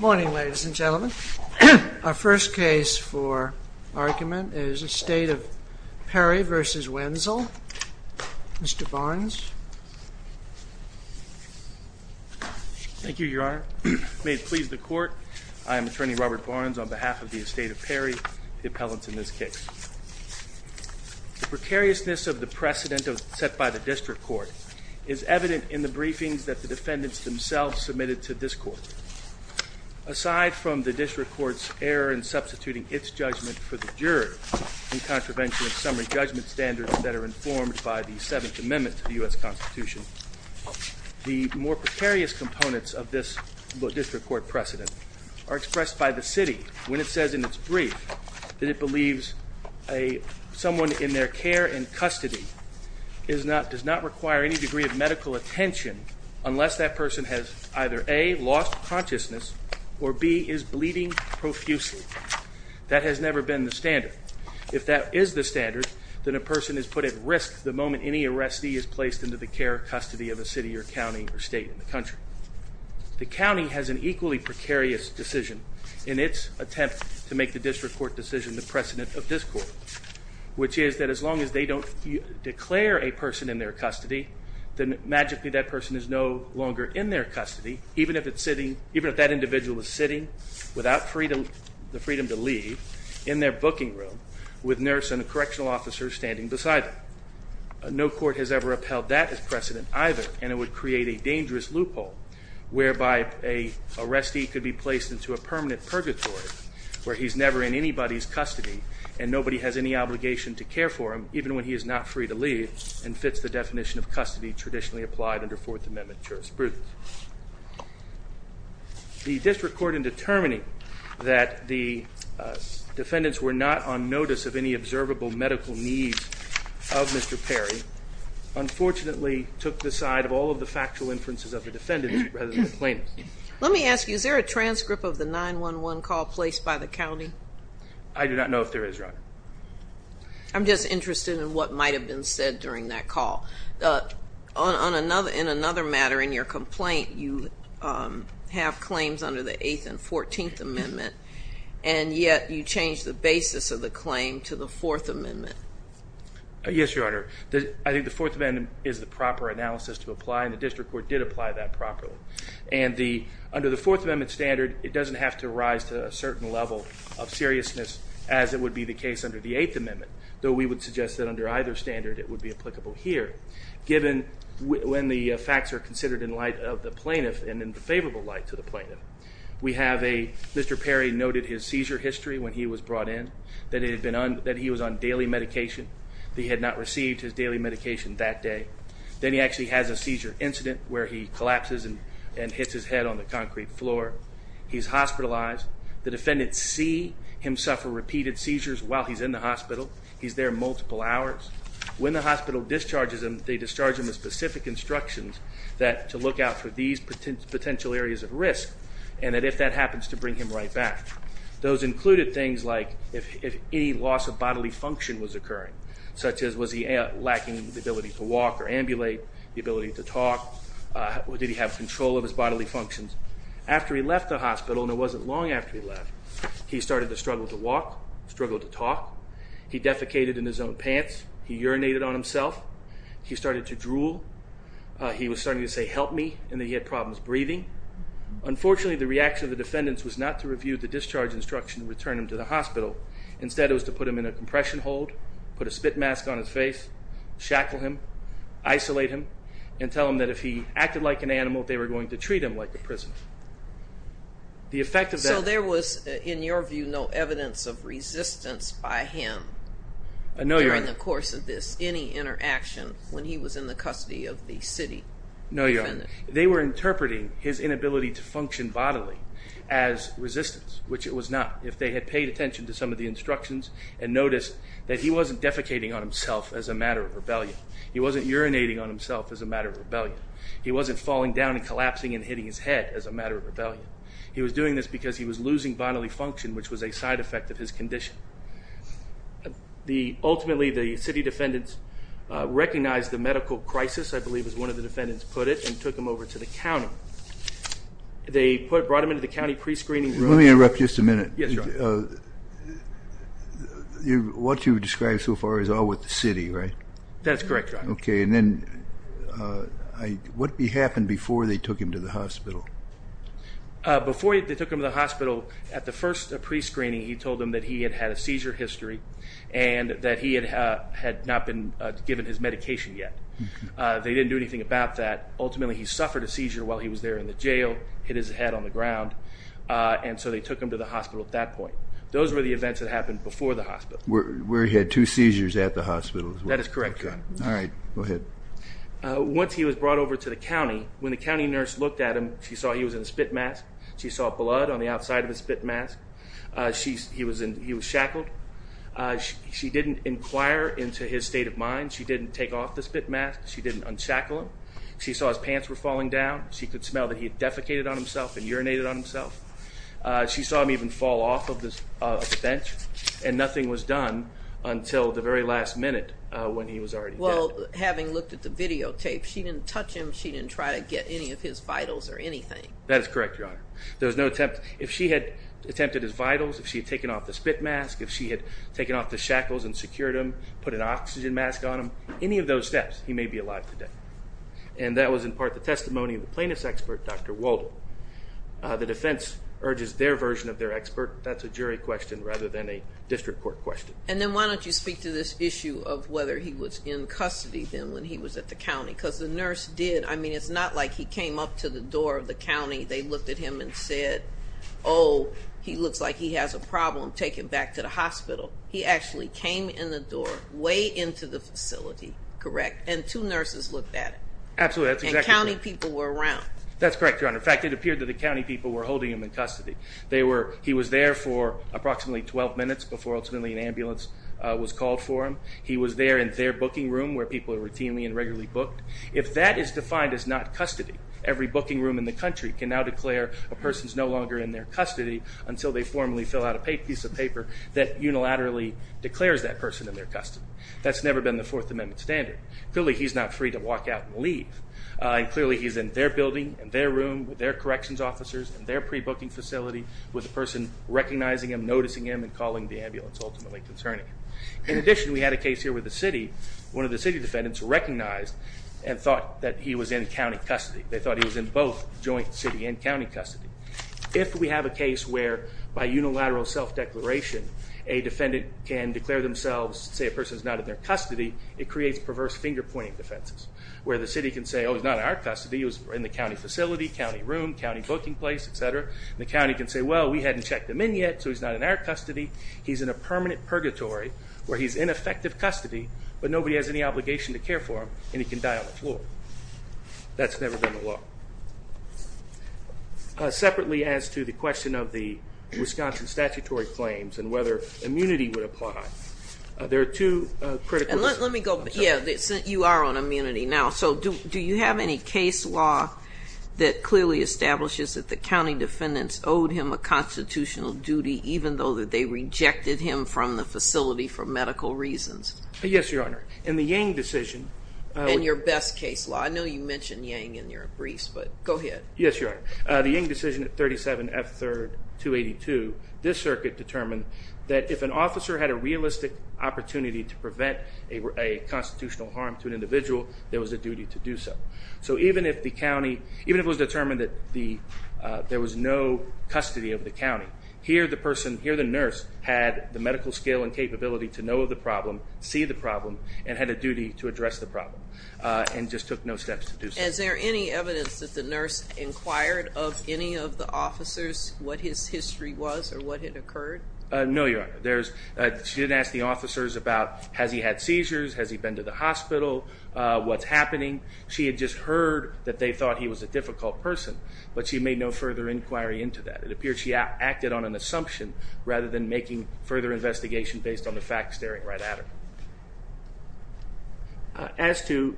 Morning, ladies and gentlemen. Our first case for argument is Estate of Perry v. Wenzel. Mr. Barnes. Thank you, Your Honor. May it please the Court, I am Attorney Robert Barnes on behalf of the Estate of Perry, the appellant in this case. The precariousness of the precedent set by the District Court is evident in the briefings that the defendants themselves submitted to this Court. Aside from the District Court's error in substituting its judgment for the juror in contravention of summary judgment standards that are informed by the Seventh Amendment to the U.S. Constitution, the more precarious components of this District Court precedent are expressed by the City when it says in its brief that it believes someone in their care and custody does not require any degree of medical attention unless that person has either A. lost consciousness or B. is bleeding profusely. That has never been the standard. If that is the standard, then a person is put at risk the moment any arrestee is placed into the care or custody of a city or county or state in the country. The county has an equally precarious decision in its attempt to make the District Court decision the precedent of this Court, which is that as long as they don't declare a person in their custody, then magically that person is no longer in their custody, even if that individual is sitting without the freedom to leave in their booking room with a nurse and a correctional officer standing beside them. No court has ever upheld that as precedent either, and it would create a dangerous loophole whereby an arrestee could be placed into a permanent purgatory where he's never in anybody's custody and nobody has any obligation to care for him even when he is not free to leave and fits the definition of custody traditionally applied under Fourth Amendment jurisprudence. The District Court in determining that the defendants were not on notice of any observable medical needs of Mr. Perry unfortunately took the side of all of the factual inferences of the defendants rather than the plaintiffs. Let me ask you, is there a transcript of the 911 call placed by the county? I do not know if there is, Your Honor. I'm just interested in what might have been said during that call. In another matter in your complaint, you have claims under the Eighth and Fourteenth Amendment, and yet you changed the basis of the claim to the Fourth Amendment. Yes, Your Honor. I think the Fourth Amendment is the proper analysis to apply, and the District Court did apply that properly. And under the Fourth Amendment standard, it doesn't have to rise to a certain level of seriousness as it would be the case under the Eighth Amendment, though we would suggest that under either standard it would be applicable here, given when the facts are considered in light of the plaintiff and in favorable light to the plaintiff. Mr. Perry noted his seizure history when he was brought in, that he was on daily medication, that he had not received his daily medication that day. Then he actually has a seizure incident where he collapses and hits his head on the concrete floor. He's hospitalized. The defendants see him suffer repeated seizures while he's in the hospital. He's there multiple hours. When the hospital discharges him, they discharge him with specific instructions to look out for these potential areas of risk and that if that happens to bring him right back. Those included things like if any loss of bodily function was occurring, such as was he lacking the ability to walk or ambulate, the ability to talk, or did he have control of his bodily functions. After he left the hospital, and it wasn't long after he left, he started to struggle to walk, struggle to talk. He defecated in his own pants. He urinated on himself. He started to drool. He was starting to say, help me, and he had problems breathing. Unfortunately, the reaction of the defendants was not to review the discharge instruction and return him to the hospital. Instead, it was to put him in a compression hold, put a spit mask on his face, shackle him, isolate him, and tell him that if he acted like an animal, they were going to treat him like a prisoner. The effect of that... So there was, in your view, no evidence of resistance by him during the course of this, any interaction when he was in the custody of the city? No, Your Honor. They were interpreting his inability to function bodily as resistance, which it was not. If they had paid attention to some of the instructions and noticed that he wasn't defecating on himself as a matter of rebellion, he wasn't urinating on himself as a matter of rebellion, he wasn't falling down and collapsing and hitting his head as a matter of rebellion. He was doing this because he was losing bodily function, which was a side effect of his condition. Ultimately, the city defendants recognized the medical crisis, I believe, as one of the defendants put it, and took him over to the county. They brought him into the county prescreening room. Let me interrupt just a minute. Yes, Your Honor. What you've described so far is all with the city, right? That's correct, Your Honor. Okay, and then what happened before they took him to the hospital? Before they took him to the hospital, at the first prescreening, he told them that he had had a seizure history and that he had not been given his medication yet. They didn't do anything about that. Ultimately, he suffered a seizure while he was there in the jail, hit his head on the ground, and so they took him to the hospital at that point. Those were the events that happened before the hospital. Where he had two seizures at the hospital. That is correct, Your Honor. All right, go ahead. Once he was brought over to the county, when the county nurse looked at him, she saw he was in a spit mask. She saw blood on the outside of his spit mask. He was shackled. She didn't inquire into his state of mind. She didn't take off the spit mask. She didn't unshackle him. She saw his pants were falling down. She could smell that he had defecated on himself and urinated on himself. She saw him even fall off of the bench and nothing was done until the very last minute when he was already dead. Well, having looked at the videotape, she didn't touch him. She didn't try to get any of his vitals or anything. That is correct, Your Honor. There was no attempt. If she had attempted his vitals, if she had taken off the spit mask, if she had taken off the shackles and secured him, put an oxygen mask on him, any of those steps, he may be alive today. And that was in part the testimony of the plaintiff's expert, Dr. Walden. The defense urges their version of their expert. That's a jury question rather than a district court question. And then why don't you speak to this issue of whether he was in custody then when he was at the county? Because the nurse did. I mean, it's not like he came up to the door of the county. They looked at him and said, oh, he looks like he has a problem. Take him back to the hospital. He actually came in the door, way into the facility, correct? And two nurses looked at him. Absolutely. That's exactly right. And county people were around. That's correct, Your Honor. In fact, it appeared that the county people were holding him in custody. He was there for approximately 12 minutes before ultimately an ambulance was called for him. He was there in their booking room where people are routinely and regularly booked. If that is defined as not custody, every booking room in the country can now declare a person is no longer in their custody until they formally fill out a piece of paper that unilaterally declares that person in their custody. That's never been the Fourth Amendment standard. Clearly, he's not free to walk out and leave. Clearly, he's in their building, in their room, with their corrections officers, in their pre-booking facility with a person recognizing him, noticing him, and calling the ambulance, ultimately concerning him. In addition, we had a case here with the city. One of the city defendants recognized and thought that he was in county custody. They thought he was in both joint city and county custody. If we have a case where, by unilateral self-declaration, a defendant can declare themselves, say a person is not in their custody, it creates perverse finger-pointing defenses. Where the city can say, oh, he's not in our custody. He was in the county facility, county room, county booking place, etc. The county can say, well, we hadn't checked him in yet, so he's not in our custody. He's in a permanent purgatory where he's in effective custody, but nobody has any obligation to care for him, and he can die on the floor. That's never been the law. Separately as to the question of the Wisconsin statutory claims and whether immunity would apply, there are two critical... Let me go, yeah, you are on immunity now. So, do you have any case law that clearly establishes that the county defendants owed him a constitutional duty, even though they rejected him from the facility for medical reasons? Yes, Your Honor. In the Yang decision... In your best case law. I know you mentioned Yang in your briefs, but go ahead. Yes, Your Honor. The Yang decision at 37 F. 3rd, 282, this circuit determined that if an officer had a realistic opportunity to prevent a constitutional harm to an individual, there was a duty to do so. So, even if the county, even if it was determined that there was no custody of the county, here the person, here the nurse, had the medical skill and capability to know the problem, see the problem, and had a duty to address the problem. And just took no steps to do so. Is there any evidence that the nurse inquired of any of the officers what his history was or what had occurred? No, Your Honor. She didn't ask the officers about has he had seizures, has he been to the hospital, what's happening. She had just heard that they thought he was a difficult person, but she made no further inquiry into that. It appeared she acted on an assumption rather than making further investigation based on the facts staring right at her. As to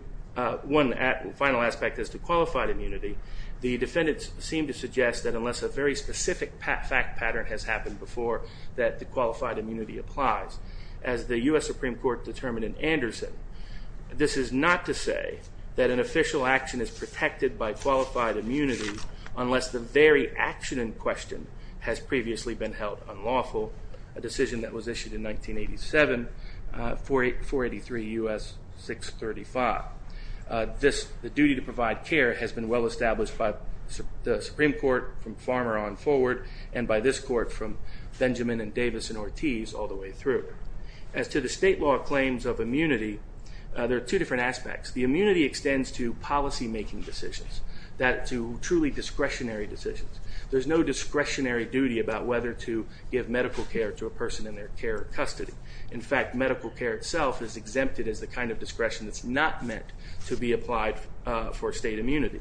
one final aspect as to qualified immunity, the defendants seem to suggest that unless a very specific fact pattern has happened before that the qualified immunity applies. As the U.S. Supreme Court determined in Anderson, this is not to say that an official action is protected by qualified immunity unless the very action in question has previously been held unlawful. A decision that was issued in 1987, 483 U.S. 635. The duty to provide care has been well established by the Supreme Court from Farmer on forward and by this court from Benjamin and Davis and Ortiz all the way through. As to the state law claims of immunity, there are two different aspects. The immunity extends to policy making decisions, that to truly discretionary decisions. There's no discretionary duty about whether to give medical care to a person in their care or custody. In fact, medical care itself is exempted as the kind of discretion that's not meant to be applied for state immunity.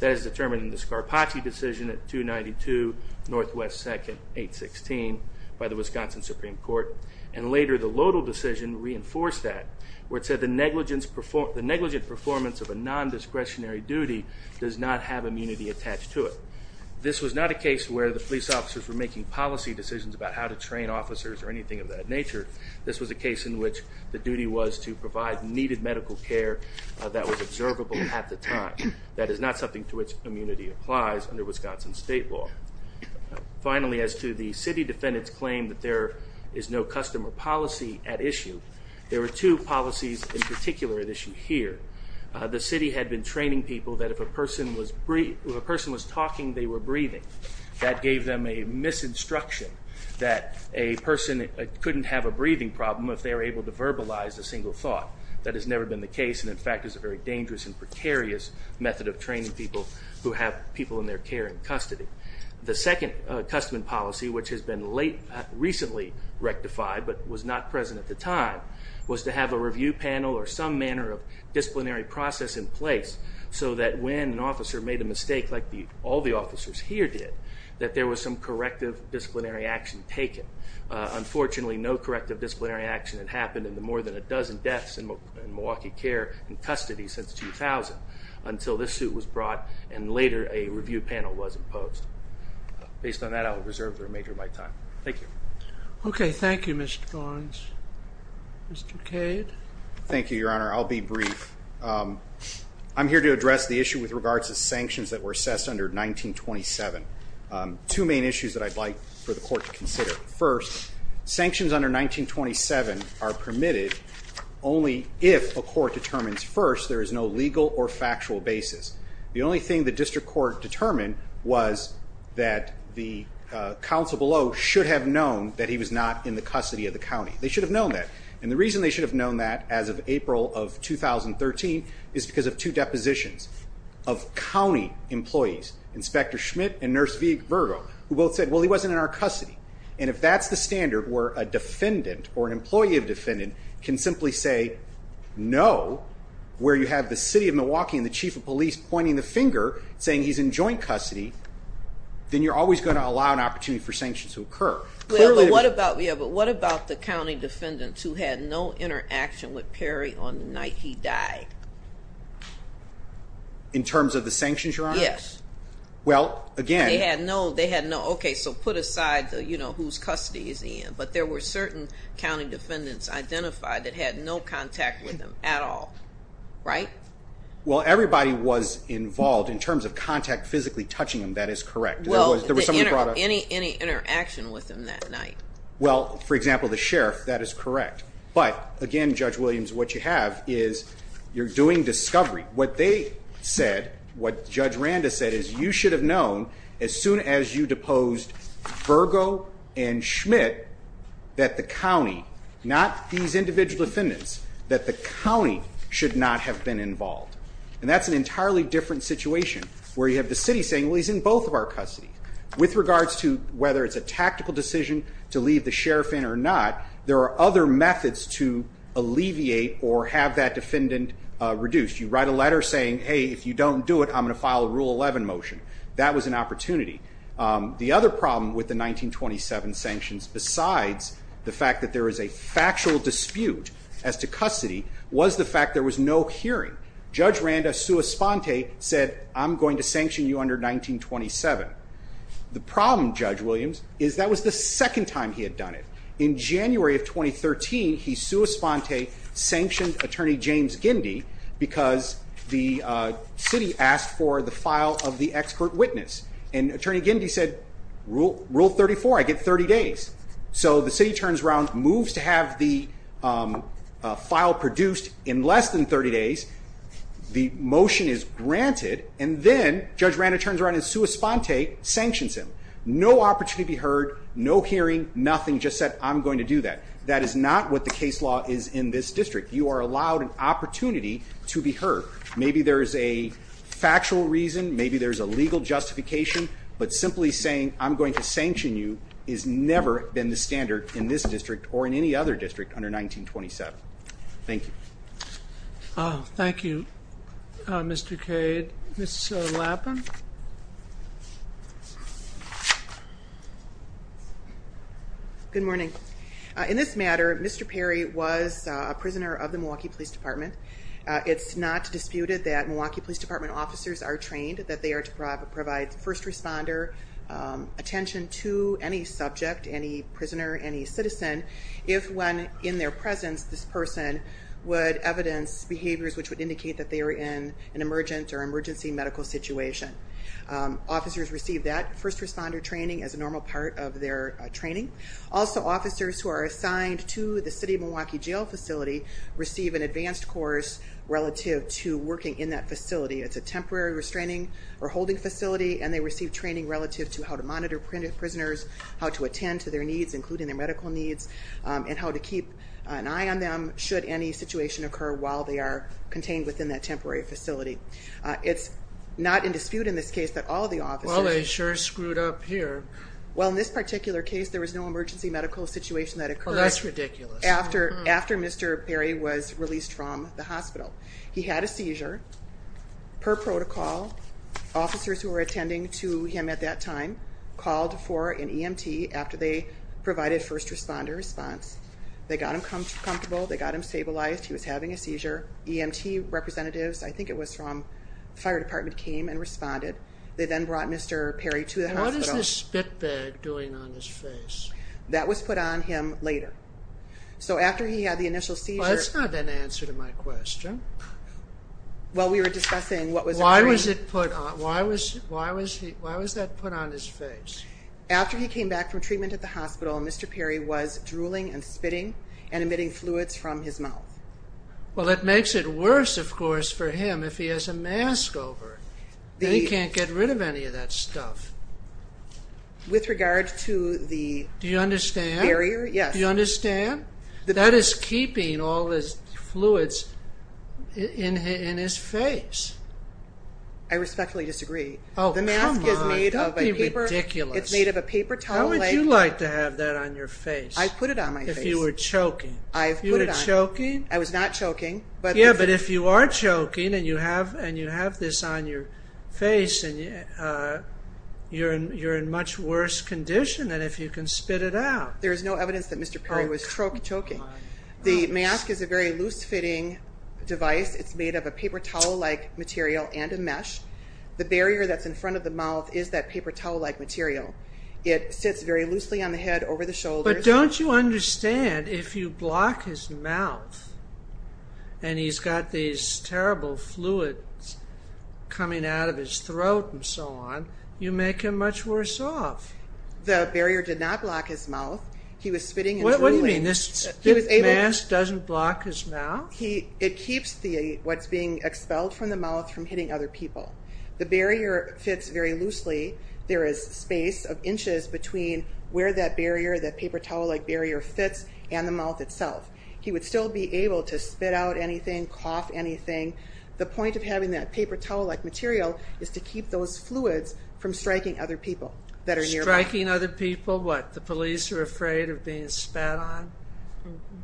That is determined in the Scarpacci decision at 292 Northwest 2nd, 816 by the Wisconsin Supreme Court. And later the Lodal decision reinforced that where it said the negligent performance of a non-discretionary duty does not have immunity attached to it. This was not a case where the police officers were making policy decisions about how to train officers or anything of that nature. This was a case in which the duty was to provide needed medical care that was observable at the time. That is not something to which immunity applies under Wisconsin state law. Finally, as to the city defendants claim that there is no customer policy at issue, there are two policies in particular at issue here. The city had been training people that if a person was talking, they were breathing. That gave them a misinstruction that a person couldn't have a breathing problem if they were able to verbalize a single thought. That has never been the case and in fact is a very dangerous and precarious method of training people who have people in their care in custody. The second customer policy, which has been recently rectified but was not present at the time, was to have a review panel or some manner of disciplinary process in place so that when an officer made a mistake like all the officers here did, that there was some corrective disciplinary action taken. Unfortunately, no corrective disciplinary action had happened in the more than a dozen deaths in Milwaukee care and custody since 2000 until this suit was brought and later a review panel was imposed. Based on that, I will reserve the remainder of my time. Thank you. Okay, thank you, Mr. Barnes. Mr. Cade? Thank you, Your Honor. I'll be brief. I'm here to address the issue with regards to sanctions that were assessed under 1927. Two main issues that I'd like for the court to consider. First, sanctions under 1927 are permitted only if a court determines first there is no legal or factual basis. The only thing the district court determined was that the counsel below should have known that he was not in the custody of the county. They should have known that. And the reason they should have known that as of April of 2013 is because of two depositions of county employees, Inspector Schmidt and Nurse Vergo, who both said, well, he wasn't in our custody. And if that's the standard where a defendant or an employee of a defendant can simply say no, where you have the city of Milwaukee and the chief of police pointing the finger saying he's in joint custody, then you're always going to allow an opportunity for sanctions to occur. But what about the county defendants who had no interaction with Perry on the night he died? In terms of the sanctions, Your Honor? Yes. Well, again. They had no, they had no, okay, so put aside the, you know, whose custody is he in. But there were certain county defendants identified that had no contact with him at all. Right? Well, everybody was involved in terms of contact physically touching him. That is correct. Well, any interaction with him that night? Well, for example, the sheriff, that is correct. But, again, Judge Williams, what you have is you're doing discovery. What they said, what Judge Randa said is you should have known as soon as you deposed Virgo and Schmidt that the county, not these individual defendants, that the county should not have been involved. And that's an entirely different situation where you have the city saying, well, he's in both of our custody. With regards to whether it's a tactical decision to leave the sheriff in or not, there are other methods to alleviate or have that defendant reduced. You write a letter saying, hey, if you don't do it, I'm going to file a Rule 11 motion. That was an opportunity. The other problem with the 1927 sanctions, besides the fact that there is a factual dispute as to custody, was the fact there was no hearing. Judge Randa sua sponte said, I'm going to sanction you under 1927. The problem, Judge Williams, is that was the second time he had done it. In January of 2013, he sua sponte sanctioned Attorney James Gindy because the city asked for the file of the expert witness. And Attorney Gindy said, Rule 34, I get 30 days. So the city turns around, moves to have the file produced in less than 30 days. The motion is granted. And then Judge Randa turns around and sua sponte sanctions him. No opportunity to be heard. No hearing. Nothing. Just said, I'm going to do that. That is not what the case law is in this district. You are allowed an opportunity to be heard. Maybe there is a factual reason. Maybe there is a legal justification. But simply saying, I'm going to sanction you, has never been the standard in this district or in any other district under 1927. Thank you. Thank you, Mr. Cade. Ms. Lappin. Good morning. In this matter, Mr. Perry was a prisoner of the Milwaukee Police Department. It's not disputed that Milwaukee Police Department officers are trained that they are to provide first responder attention to any subject, any prisoner, any citizen, if when in their presence this person would evidence behaviors which would indicate that they are in an emergent or emergency medical situation. Officers receive that first responder training as a normal part of their training. Also, officers who are assigned to the city of Milwaukee jail facility receive an advanced course relative to working in that facility. It's a temporary restraining or holding facility, and they receive training relative to how to monitor prisoners, how to attend to their needs, including their medical needs, and how to keep an eye on them should any situation occur while they are contained within that temporary facility. It's not in dispute in this case that all the officers Well, they sure screwed up here. Well, in this particular case, there was no emergency medical situation that occurred Well, that's ridiculous. after Mr. Perry was released from the hospital. He had a seizure. Per protocol, officers who were attending to him at that time called for an EMT after they provided first responder response. They got him comfortable. They got him stabilized. He was having a seizure. EMT representatives, I think it was from the fire department, came and responded. They then brought Mr. Perry to the hospital. What is this spit bag doing on his face? That was put on him later. So after he had the initial seizure Well, that's not an answer to my question. While we were discussing what was occurring Why was it put on? Why was that put on his face? After he came back from treatment at the hospital, Mr. Perry was drooling and spitting and emitting fluids from his mouth. Well, it makes it worse, of course, for him if he has a mask over. Then he can't get rid of any of that stuff. With regard to the Do you understand? Barrier, yes. Do you understand? That is keeping all his fluids in his face. I respectfully disagree. Oh, come on. The mask is made of paper. Don't be ridiculous. It's made of a paper towel. How would you like to have that on your face? I put it on my face. If you were choking. I put it on. You were choking? I was not choking. Yeah, but if you are choking and you have this on your face, you're in much worse condition than if you can spit it out. There is no evidence that Mr. Perry was choking. The mask is a very loose-fitting device. It's made of a paper towel-like material and a mesh. The barrier that's in front of the mouth is that paper towel-like material. It sits very loosely on the head, over the shoulders. But don't you understand, if you block his mouth and he's got these terrible fluids coming out of his throat and so on, you make him much worse off. The barrier did not block his mouth. He was spitting and drooling. What do you mean? This mask doesn't block his mouth? It keeps what's being expelled from the mouth from hitting other people. The barrier fits very loosely. There is space of inches between where that barrier, that paper towel-like barrier fits and the mouth itself. He would still be able to spit out anything, cough anything. The point of having that paper towel-like material is to keep those fluids from striking other people that are nearby. Striking other people? What, the police are afraid of being spat on?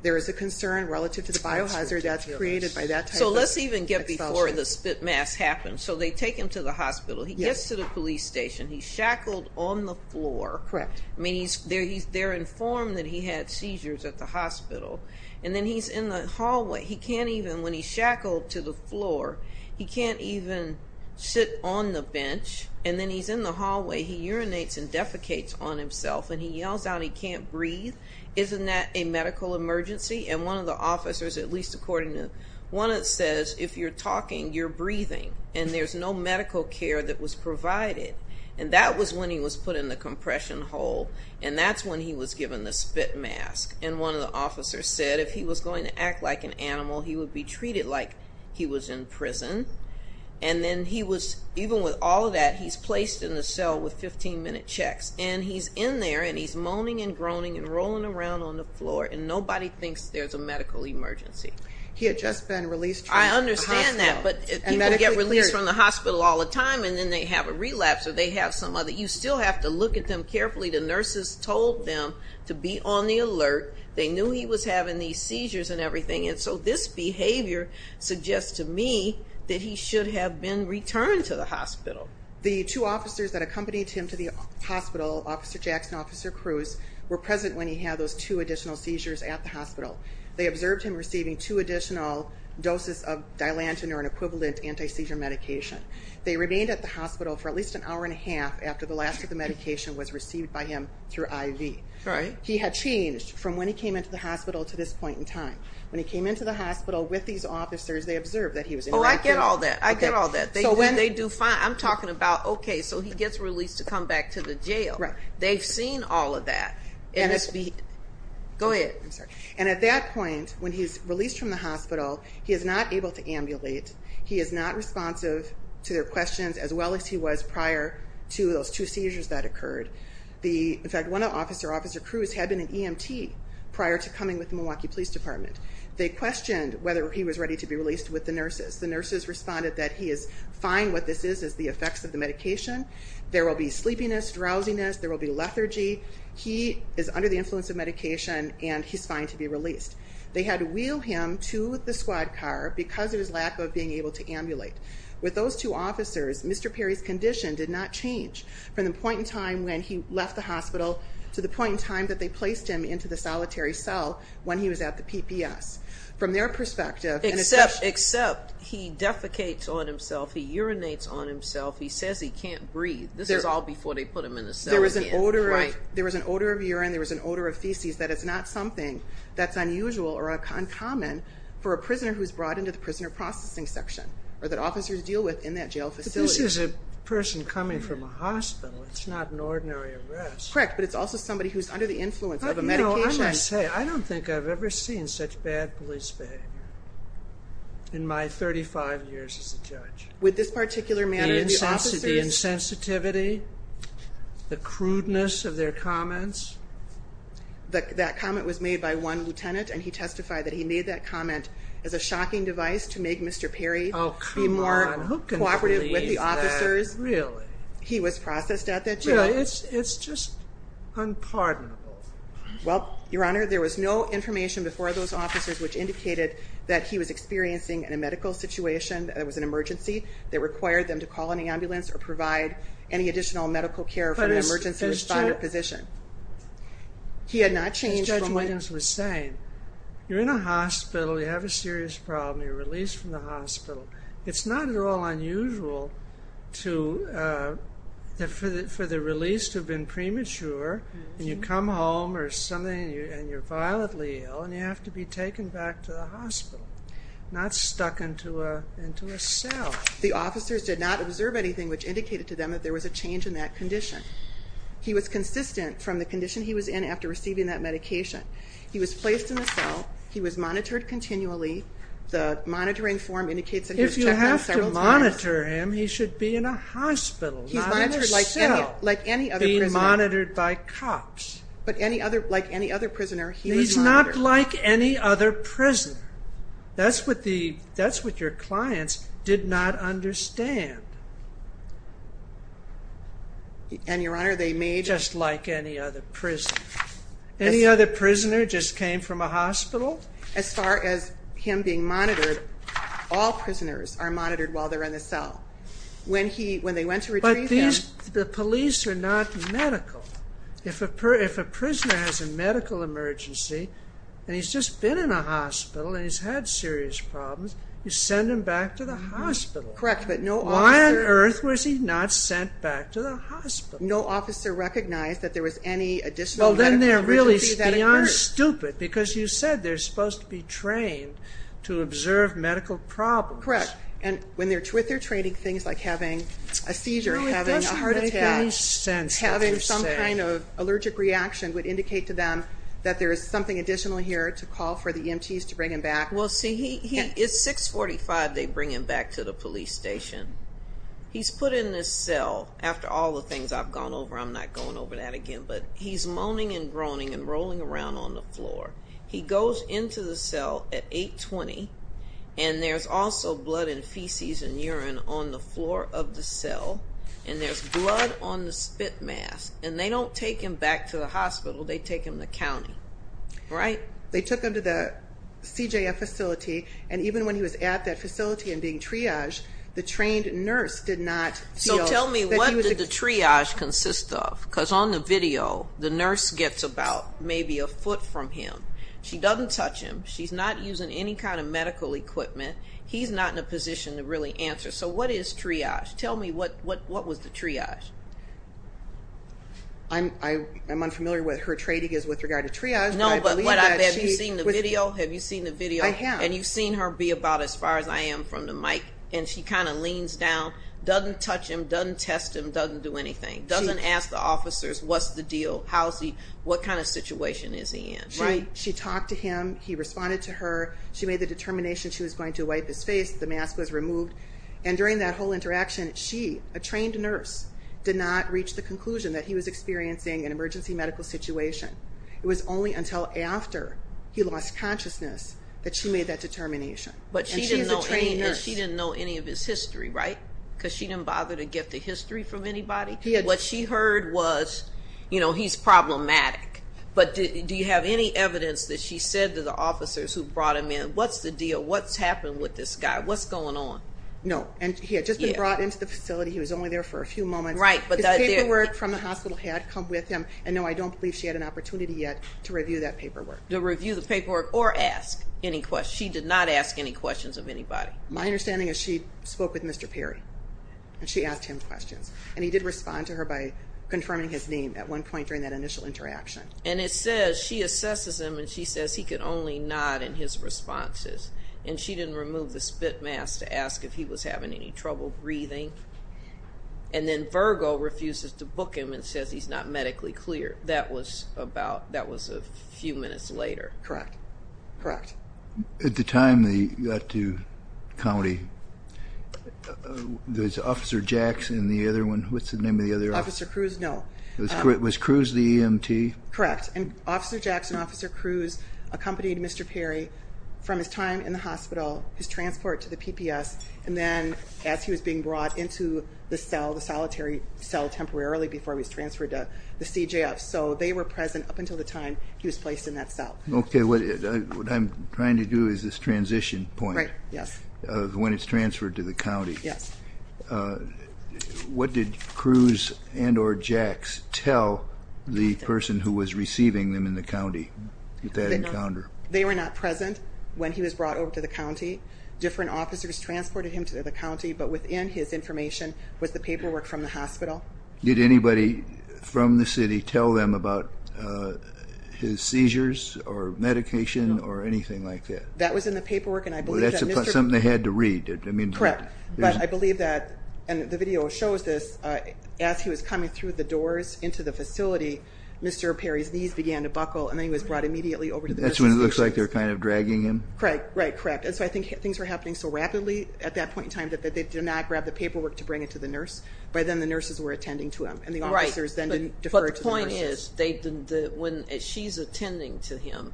There is a concern relative to the biohazard that's created by that type of expulsion. So let's even get before the spit mask happens. So they take him to the hospital. He gets to the police station. He's shackled on the floor. Correct. I mean, they're informed that he had seizures at the hospital. And then he's in the hallway. He can't even, when he's shackled to the floor, he can't even sit on the bench. And then he's in the hallway. He urinates and defecates on himself. And he yells out he can't breathe. Isn't that a medical emergency? And one of the officers, at least according to one that says, if you're talking, you're breathing. And there's no medical care that was provided. And that was when he was put in the compression hole. And that's when he was given the spit mask. And one of the officers said if he was going to act like an animal, he would be treated like he was in prison. And then he was, even with all of that, he's placed in the cell with 15-minute checks. And he's in there, and he's moaning and groaning and rolling around on the floor, and nobody thinks there's a medical emergency. He had just been released from the hospital. I understand that, but people get released from the hospital all the time, and then they have a relapse or they have some other. You still have to look at them carefully. The nurses told them to be on the alert. They knew he was having these seizures and everything. And so this behavior suggests to me that he should have been returned to the hospital. The two officers that accompanied him to the hospital, Officer Jackson and Officer Cruz, were present when he had those two additional seizures at the hospital. They observed him receiving two additional doses of Dilantin, or an equivalent anti-seizure medication. They remained at the hospital for at least an hour and a half after the last of the medication was received by him through IV. He had changed from when he came into the hospital to this point in time. When he came into the hospital with these officers, they observed that he was interacting. Oh, I get all that. I get all that. They do fine. I'm talking about, okay, so he gets released to come back to the jail. They've seen all of that. And at that point, when he's released from the hospital, he is not able to ambulate. He is not responsive to their questions as well as he was prior to those two seizures that occurred. In fact, one officer, Officer Cruz, had been an EMT prior to coming with the Milwaukee Police Department. They questioned whether he was ready to be released with the nurses. The nurses responded that he is fine. What this is is the effects of the medication. There will be sleepiness, drowsiness. There will be lethargy. He is under the influence of medication, and he's fine to be released. They had to wheel him to the squad car because of his lack of being able to ambulate. With those two officers, Mr. Perry's condition did not change from the point in time when he left the hospital to the point in time that they placed him into the solitary cell when he was at the PPS. From their perspective, and it's just— Except he defecates on himself. He urinates on himself. He says he can't breathe. This is all before they put him in the cell again. There was an odor of urine. There was an odor of feces. That is not something that's unusual or uncommon for a prisoner who's brought into the prisoner processing section or that officers deal with in that jail facility. But this is a person coming from a hospital. It's not an ordinary arrest. Correct, but it's also somebody who's under the influence of a medication. You know, I'm going to say, I don't think I've ever seen such bad police behavior in my 35 years as a judge. With this particular manner, the officers— The crudeness of their comments. That comment was made by one lieutenant, and he testified that he made that comment as a shocking device to make Mr. Perry be more cooperative with the officers. Really? He was processed at that jail. It's just unpardonable. Well, Your Honor, there was no information before those officers which indicated that he was experiencing a medical situation, that it was an emergency that required them to call an ambulance or provide any additional medical care for an emergency responder physician. But as Judge Williams was saying, you're in a hospital, you have a serious problem, you're released from the hospital. It's not at all unusual for the release to have been premature, and you come home or something, and you're violently ill, and you have to be taken back to the hospital, not stuck into a cell. The officers did not observe anything which indicated to them that there was a change in that condition. He was consistent from the condition he was in after receiving that medication. He was placed in a cell. He was monitored continually. The monitoring form indicates that he was checked on several times. If you have to monitor him, he should be in a hospital, not in a cell, being monitored by cops. But like any other prisoner, he was monitored. He's not like any other prisoner. That's what your clients did not understand. And, Your Honor, they may... Just like any other prisoner. Any other prisoner just came from a hospital? As far as him being monitored, all prisoners are monitored while they're in the cell. When they went to retrieve him... But the police are not medical. If a prisoner has a medical emergency, and he's just been in a hospital, and he's had serious problems, you send him back to the hospital. Correct, but no officer... Why on earth was he not sent back to the hospital? No officer recognized that there was any additional medical emergency that occurred. Oh, then they're really beyond stupid, because you said they're supposed to be trained to observe medical problems. Correct, and with their training, things like having a seizure, having a heart attack... Any kind of allergic reaction would indicate to them that there is something additional here to call for the EMTs to bring him back. Well, see, it's 645, they bring him back to the police station. He's put in this cell. After all the things I've gone over, I'm not going over that again, but he's moaning and groaning and rolling around on the floor. He goes into the cell at 820, and there's also blood and feces and urine on the floor of the cell, and there's blood on the spit mask, and they don't take him back to the hospital. They take him to county, right? They took him to the CJF facility, and even when he was at that facility and being triaged, the trained nurse did not feel that he was... So tell me, what did the triage consist of? Because on the video, the nurse gets about maybe a foot from him. She doesn't touch him. She's not using any kind of medical equipment. He's not in a position to really answer. So what is triage? Tell me, what was the triage? I'm unfamiliar with her trading is with regard to triage. No, but have you seen the video? Have you seen the video? I have. And you've seen her be about as far as I am from the mic, and she kind of leans down, doesn't touch him, doesn't test him, doesn't do anything, doesn't ask the officers what's the deal, what kind of situation is he in, right? She talked to him. He responded to her. She made the determination she was going to wipe his face. The mask was removed. And during that whole interaction, she, a trained nurse, did not reach the conclusion that he was experiencing an emergency medical situation. It was only until after he lost consciousness that she made that determination. And she's a trained nurse. But she didn't know any of his history, right? Because she didn't bother to get the history from anybody. What she heard was, you know, he's problematic. But do you have any evidence that she said to the officers who brought him in, what's the deal, what's happened with this guy, what's going on? No. And he had just been brought into the facility. He was only there for a few moments. His paperwork from the hospital had come with him. And, no, I don't believe she had an opportunity yet to review that paperwork. To review the paperwork or ask any questions. She did not ask any questions of anybody. My understanding is she spoke with Mr. Perry, and she asked him questions. And he did respond to her by confirming his name at one point during that initial interaction. And it says she assesses him, and she says he could only nod in his responses. And she didn't remove the spit mask to ask if he was having any trouble breathing. And then Virgo refuses to book him and says he's not medically clear. That was a few minutes later. Correct. Correct. At the time they got to county, was Officer Jackson the other one? What's the name of the other officer? Officer Cruz? No. Was Cruz the EMT? Correct. And Officer Jackson, Officer Cruz accompanied Mr. Perry from his time in the hospital, his transport to the PPS, and then as he was being brought into the cell, the solitary cell temporarily before he was transferred to the CJF. So they were present up until the time he was placed in that cell. Okay. What I'm trying to do is this transition point. Right. Yes. When it's transferred to the county. Yes. What did Cruz and or Jax tell the person who was receiving them in the county at that encounter? They were not present when he was brought over to the county. Different officers transported him to the county, but within his information was the paperwork from the hospital. Did anybody from the city tell them about his seizures or medication or anything like that? No. That was in the paperwork, and I believe that Mr. Perry. Well, that's something they had to read. Correct. But I believe that, and the video shows this, as he was coming through the doors into the facility, Mr. Perry's knees began to buckle, and then he was brought immediately over to the nurse's station. That's when it looks like they're kind of dragging him. Correct. Right. Correct. And so I think things were happening so rapidly at that point in time that they did not grab the paperwork to bring it to the nurse. By then the nurses were attending to him, and the officers then didn't defer to the nurses. But the point is, when she's attending to him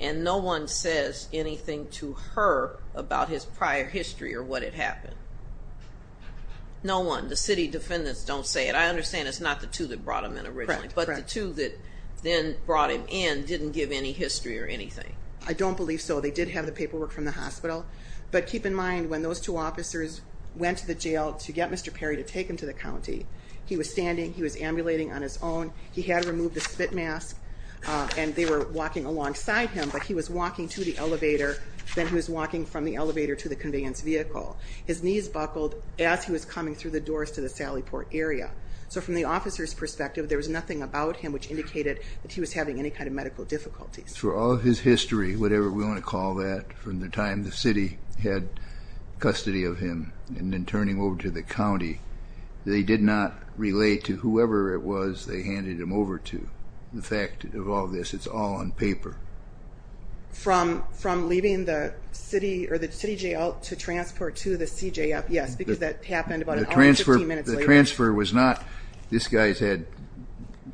and no one says anything to her about his prior history or what had happened, no one, the city defendants don't say it. I understand it's not the two that brought him in originally. Correct. Correct. But the two that then brought him in didn't give any history or anything. I don't believe so. They did have the paperwork from the hospital. But keep in mind, when those two officers went to the jail to get Mr. Perry to take him to the county, he was standing, he was ambulating on his own, he had removed the spit mask, and they were walking alongside him. But he was walking to the elevator, then he was walking from the elevator to the conveyance vehicle. His knees buckled as he was coming through the doors to the Sallyport area. So from the officer's perspective, there was nothing about him which indicated that he was having any kind of medical difficulties. Through all of his history, whatever we want to call that, from the time the city had custody of him and then turning over to the county, they did not relay to whoever it was they handed him over to the fact of all this. It's all on paper. From leaving the city or the city jail to transport to the CJF, yes, because that happened about an hour and 15 minutes later. The transfer was not this guy's had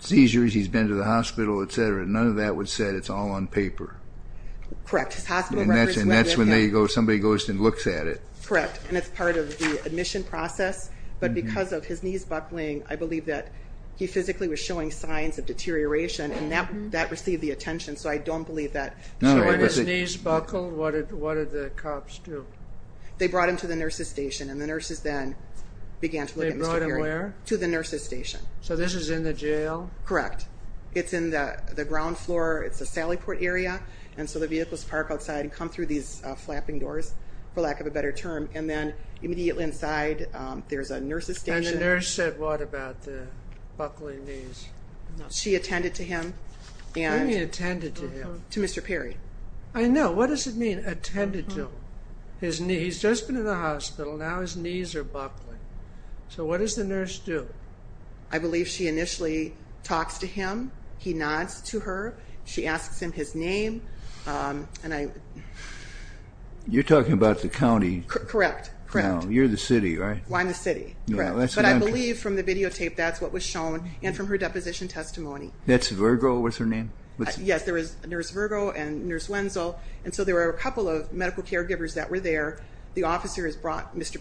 seizures, he's been to the hospital, etc. None of that was said. It's all on paper. Correct. His hospital records were with him. And that's when somebody goes and looks at it. Correct. And it's part of the admission process. But because of his knees buckling, I believe that he physically was showing signs of deterioration, and that received the attention. So I don't believe that. So when his knees buckled, what did the cops do? They brought him to the nurse's station, and the nurses then began to look at Mr. Perry. They brought him where? To the nurse's station. So this is in the jail? Correct. It's in the ground floor. It's the Sallyport area. And so the vehicles park outside and come through these flapping doors, for lack of a better term. And then immediately inside, there's a nurse's station. And the nurse said what about the buckling knees? She attended to him. What do you mean, attended to him? To Mr. Perry. I know. What does it mean, attended to him? He's just been in the hospital, now his knees are buckling. So what does the nurse do? I believe she initially talks to him. He nods to her. She asks him his name. You're talking about the county. Correct. You're the city, right? I'm the city. But I believe from the videotape, that's what was shown, and from her deposition testimony. That's Virgo, what's her name? Yes, there is Nurse Virgo and Nurse Wenzel. And so there were a couple of medical caregivers that were there. The officer,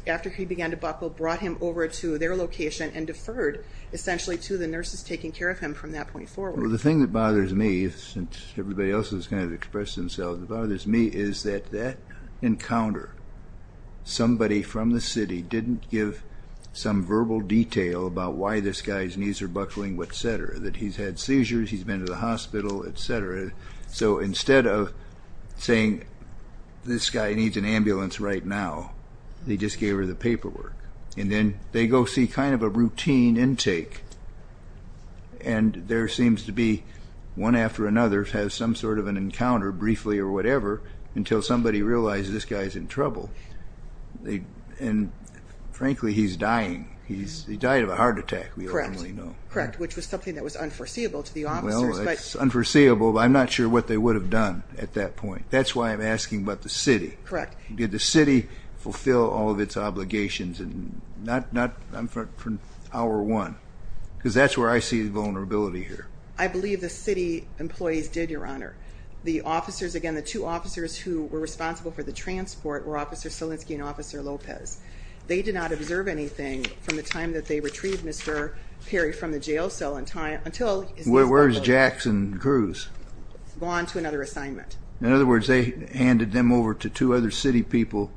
after he began to buckle, brought him over to their location and deferred, essentially, to the nurses taking care of him from that point forward. Well, the thing that bothers me, since everybody else has kind of expressed themselves, what bothers me is that that encounter, somebody from the city didn't give some verbal detail about why this guy's knees are buckling, et cetera, that he's had seizures, he's been to the hospital, et cetera. So instead of saying, this guy needs an ambulance right now, they just gave her the paperwork. And then they go see kind of a routine intake, and there seems to be one after another has some sort of an encounter, briefly or whatever, until somebody realizes this guy's in trouble. And, frankly, he's dying. He died of a heart attack, we ultimately know. Correct, which was something that was unforeseeable to the officers. Well, it's unforeseeable, but I'm not sure what they would have done at that point. That's why I'm asking about the city. Correct. Did the city fulfill all of its obligations, and not from hour one? Because that's where I see the vulnerability here. I believe the city employees did, Your Honor. The officers, again, the two officers who were responsible for the transport were Officer Silinski and Officer Lopez. They did not observe anything from the time that they retrieved Mr. Perry from the jail cell until Where is Jackson Cruz? Gone to another assignment. In other words, they handed him over to two other city people,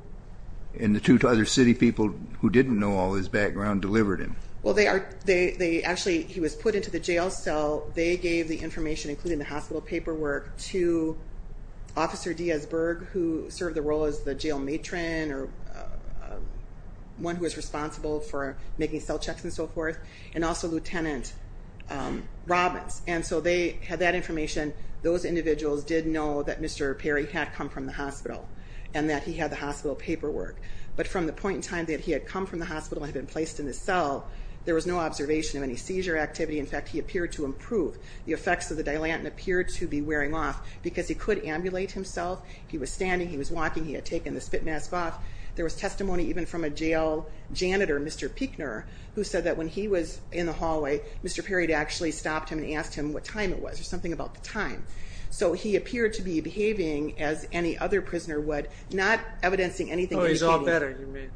and the two other city people who didn't know all his background delivered him. Well, actually, he was put into the jail cell. They gave the information, including the hospital paperwork, to Officer Dias-Berg, who served the role as the jail matron, or one who was responsible for making cell checks and so forth, and also Lieutenant Robbins. And so they had that information. Those individuals did know that Mr. Perry had come from the hospital and that he had the hospital paperwork. But from the point in time that he had come from the hospital and had been placed in the cell, there was no observation of any seizure activity. In fact, he appeared to improve. The effects of the Dilantin appeared to be wearing off because he could ambulate himself. He was standing, he was walking, he had taken the spit mask off. There was testimony even from a jail janitor, Mr. Pichner, who said that when he was in the hallway, Mr. Perry had actually stopped him and asked him what time it was, or something about the time. So he appeared to be behaving as any other prisoner would, not evidencing anything. Oh, he's all better, you mean?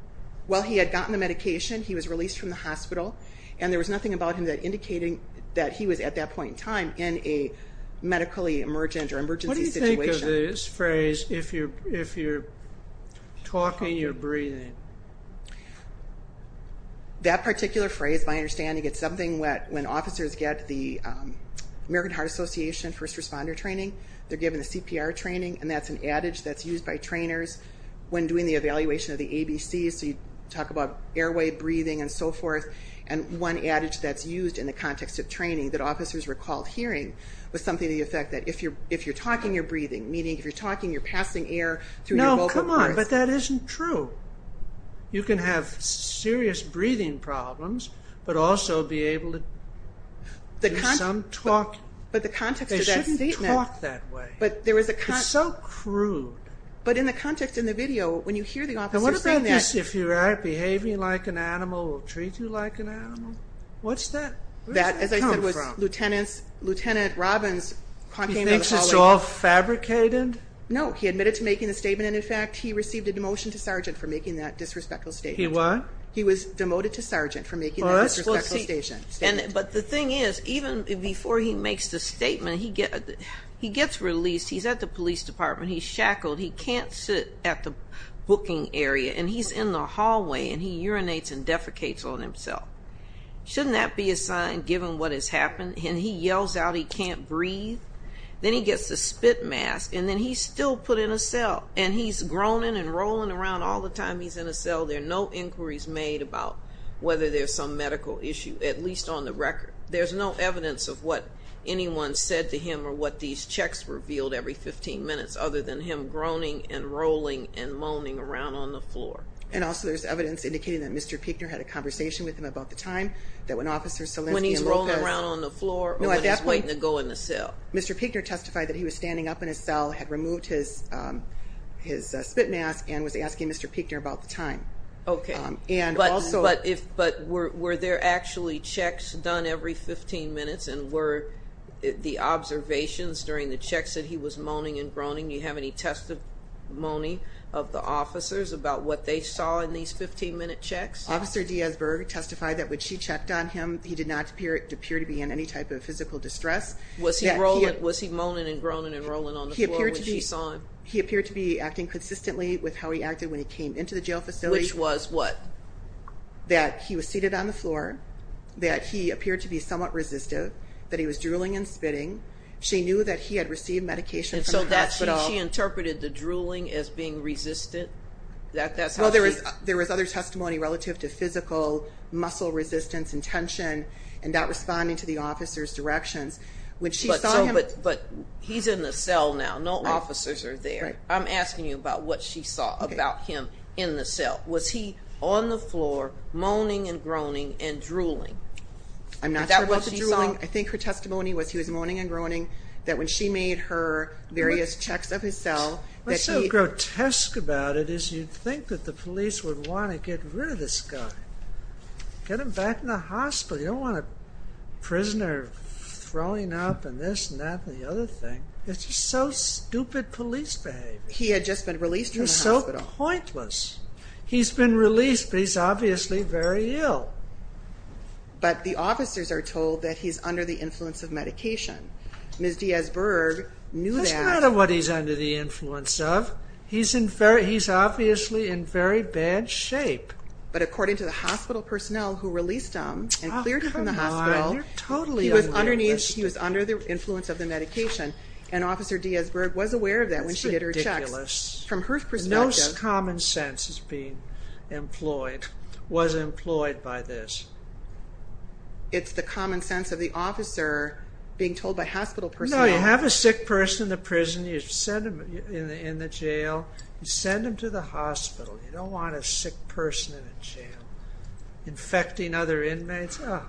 Well, he had gotten the medication, he was released from the hospital, and there was nothing about him that indicated that he was, at that point in time, in a medically emergent or emergency situation. What do you think of this phrase, if you're talking, you're breathing? That particular phrase, my understanding, it's something that when officers get the American Heart Association first responder training, they're given a CPR training, and that's an adage that's used by trainers when doing the evaluation of the ABCs, so you talk about airway, breathing, and so forth, and one adage that's used in the context of training that officers recalled hearing was something to the effect that if you're talking, you're breathing, meaning if you're talking, you're passing air through your vocal cords. No, come on, but that isn't true. You can have serious breathing problems, but also be able to do some talking. But the context of that statement... They shouldn't talk that way. But there was a... It's so crude. But in the context in the video, when you hear the officer saying that... And what about this, if you're behaving like an animal, we'll treat you like an animal? What's that come from? That, as I said, was Lieutenant Robbins talking about a colleague... He thinks it's all fabricated? No, he admitted to making the statement, and then, in fact, he received a demotion to sergeant for making that disrespectful statement. He what? He was demoted to sergeant for making that disrespectful statement. But the thing is, even before he makes the statement, he gets released. He's at the police department. He's shackled. He can't sit at the booking area, and he's in the hallway, and he urinates and defecates on himself. Shouldn't that be a sign, given what has happened? And he yells out he can't breathe. Then he gets the spit mask, and then he's still put in a cell, and he's groaning and rolling around all the time he's in a cell. There are no inquiries made about whether there's some medical issue, at least on the record. There's no evidence of what anyone said to him or what these checks revealed every 15 minutes, other than him groaning and rolling and moaning around on the floor. And also there's evidence indicating that Mr. Pichner had a conversation with him about the time that when Officer Selensky and Lopez... When he's rolling around on the floor or when he's waiting to go in the cell. Mr. Pichner testified that he was standing up in his cell, had removed his spit mask, and was asking Mr. Pichner about the time. Okay. And also... But were there actually checks done every 15 minutes, and were the observations during the checks that he was moaning and groaning, do you have any testimony of the officers about what they saw in these 15-minute checks? Officer Diasburg testified that when she checked on him, he did not appear to be in any type of physical distress. Was he moaning and groaning and rolling on the floor when she saw him? He appeared to be acting consistently with how he acted when he came into the jail facility. Which was what? That he was seated on the floor, that he appeared to be somewhat resistive, that he was drooling and spitting. She knew that he had received medication from the hospital. And so she interpreted the drooling as being resistant? Well, there was other testimony relative to physical muscle resistance and tension and not responding to the officer's directions. But he's in the cell now. No officers are there. I'm asking you about what she saw about him in the cell. Was he on the floor moaning and groaning and drooling? I'm not sure about the drooling. I think her testimony was he was moaning and groaning, that when she made her various checks of his cell that he... What's so grotesque about it is you'd think that the police would want to get rid of this guy. Get him back in the hospital. You don't want a prisoner throwing up and this and that and the other thing. It's just so stupid police behavior. He had just been released from the hospital. It's so pointless. He's been released, but he's obviously very ill. But the officers are told that he's under the influence of medication. Ms. Dias-Berg knew that. Doesn't matter what he's under the influence of. He's obviously in very bad shape. But according to the hospital personnel who released him and cleared him from the hospital, he was under the influence of the medication, and Officer Dias-Berg was aware of that when she did her checks. That's ridiculous. From her perspective... No common sense is being employed, was employed by this. It's the common sense of the officer being told by hospital personnel... No, you have a sick person in the prison, you send them in the jail, you send them to the hospital. You don't want a sick person in a jail infecting other inmates. It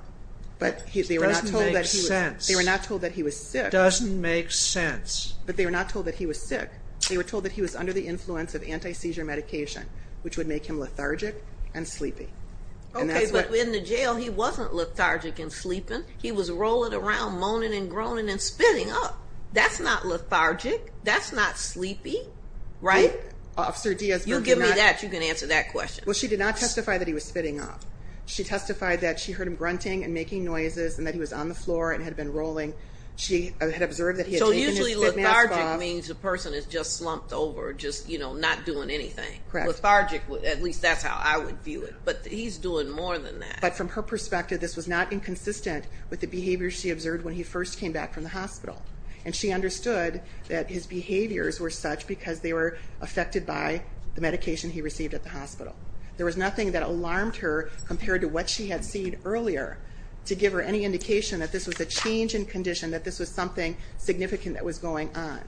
doesn't make sense. They were not told that he was sick. It doesn't make sense. But they were not told that he was sick. They were told that he was under the influence of anti-seizure medication, which would make him lethargic and sleepy. Okay, but in the jail he wasn't lethargic and sleeping. He was rolling around, moaning and groaning and spinning up. That's not lethargic. That's not sleepy. Right? Officer Dias-Berg did not... You give me that, you can answer that question. Well, she did not testify that he was spitting up. She testified that she heard him grunting and making noises and that he was on the floor and had been rolling. She had observed that he had taken his spit mask off. So usually lethargic means the person is just slumped over, just not doing anything. Correct. Lethargic, at least that's how I would view it. But he's doing more than that. But from her perspective, this was not inconsistent with the behavior she observed when he first came back from the hospital. And she understood that his behaviors were such because they were affected by the medication he received at the hospital. There was nothing that alarmed her compared to what she had seen earlier to give her any indication that this was a change in condition, that this was something significant that was going on.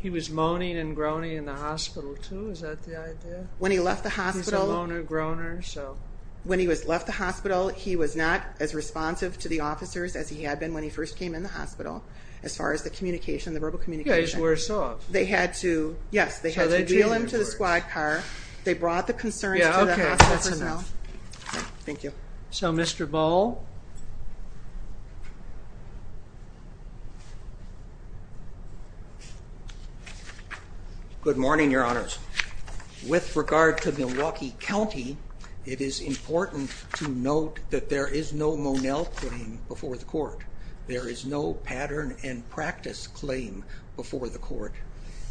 He was moaning and groaning in the hospital too? Is that the idea? When he left the hospital... He's a moaner, groaner, so... When he left the hospital, he was not as responsive to the officers as he had been when he first came in the hospital, as far as the communication, the verbal communication. You guys were soft. They had to... Yes, they had to wheel him to the squad car. They brought the concerns to the hospital personnel. Okay, that's enough. Thank you. So, Mr. Ball? Good morning, Your Honors. With regard to Milwaukee County, it is important to note that there is no Monell putting before the court. There is no pattern and practice claim before the court.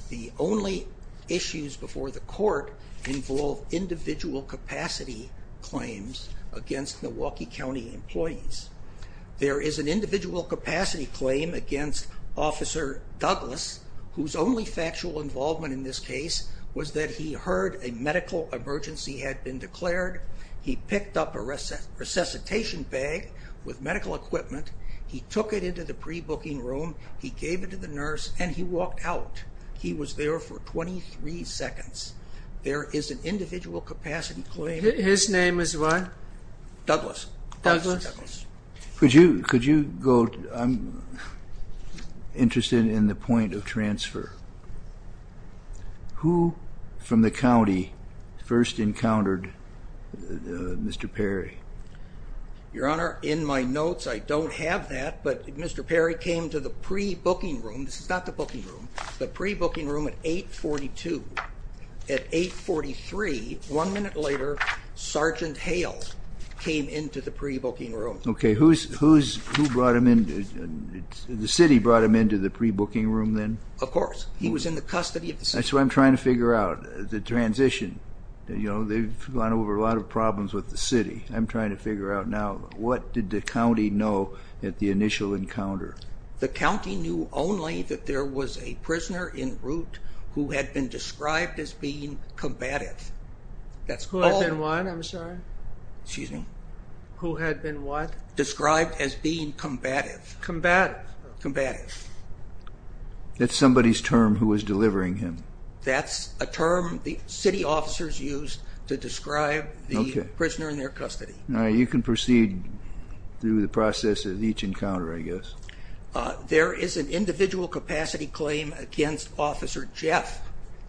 The only issues before the court involve individual capacity claims against Milwaukee County employees. There is an individual capacity claim against Officer Douglas, whose only factual involvement in this case was that he heard a medical emergency had been declared. He picked up a resuscitation bag with medical equipment. He took it into the pre-booking room. He gave it to the nurse, and he walked out. He was there for 23 seconds. There is an individual capacity claim. His name is what? Douglas. Douglas. Could you go... I'm interested in the point of transfer. Who from the county first encountered Mr. Perry? Your Honor, in my notes, I don't have that, but Mr. Perry came to the pre-booking room. This is not the booking room. The pre-booking room at 842. At 843, one minute later, Sergeant Hale came into the pre-booking room. Okay. Who brought him in? The city brought him into the pre-booking room then? Of course. He was in the custody of the city. That's what I'm trying to figure out, the transition. They've gone over a lot of problems with the city. I'm trying to figure out now, what did the county know at the initial encounter? The county knew only that there was a prisoner en route who had been described as being combative. That's all. Who had been what? I'm sorry. Excuse me. Who had been what? Described as being combative. Combative. Combative. That's somebody's term who was delivering him. That's a term the city officers used to describe the prisoner in their custody. All right. You can proceed through the process of each encounter, I guess. There is an individual capacity claim against Officer Jeff,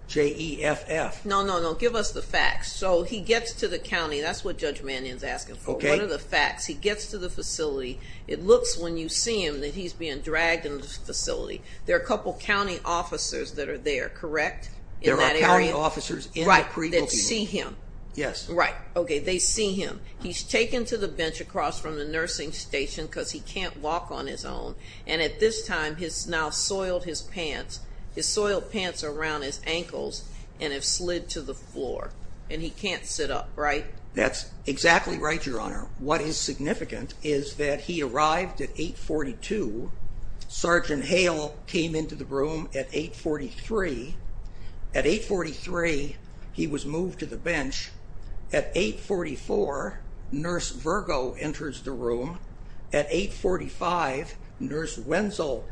J-E-F-F. No, no, no. Give us the facts. So he gets to the county. That's what Judge Mannion is asking for. Okay. What are the facts? He gets to the facility. It looks, when you see him, that he's being dragged into the facility. There are a couple of county officers that are there, correct? There are county officers in the pre-booking. Right. That see him. Yes. Right. Okay. They see him. He's taken to the bench across from the nursing station because he can't walk on his own. And at this time, he's now soiled his pants. His soiled pants are around his ankles and have slid to the floor. And he can't sit up, right? That's exactly right, Your Honor. What is significant is that he arrived at 842. Sergeant Hale came into the room at 843. At 843, he was moved to the bench. At 844, Nurse Virgo enters the room. At 845, Nurse Wenzel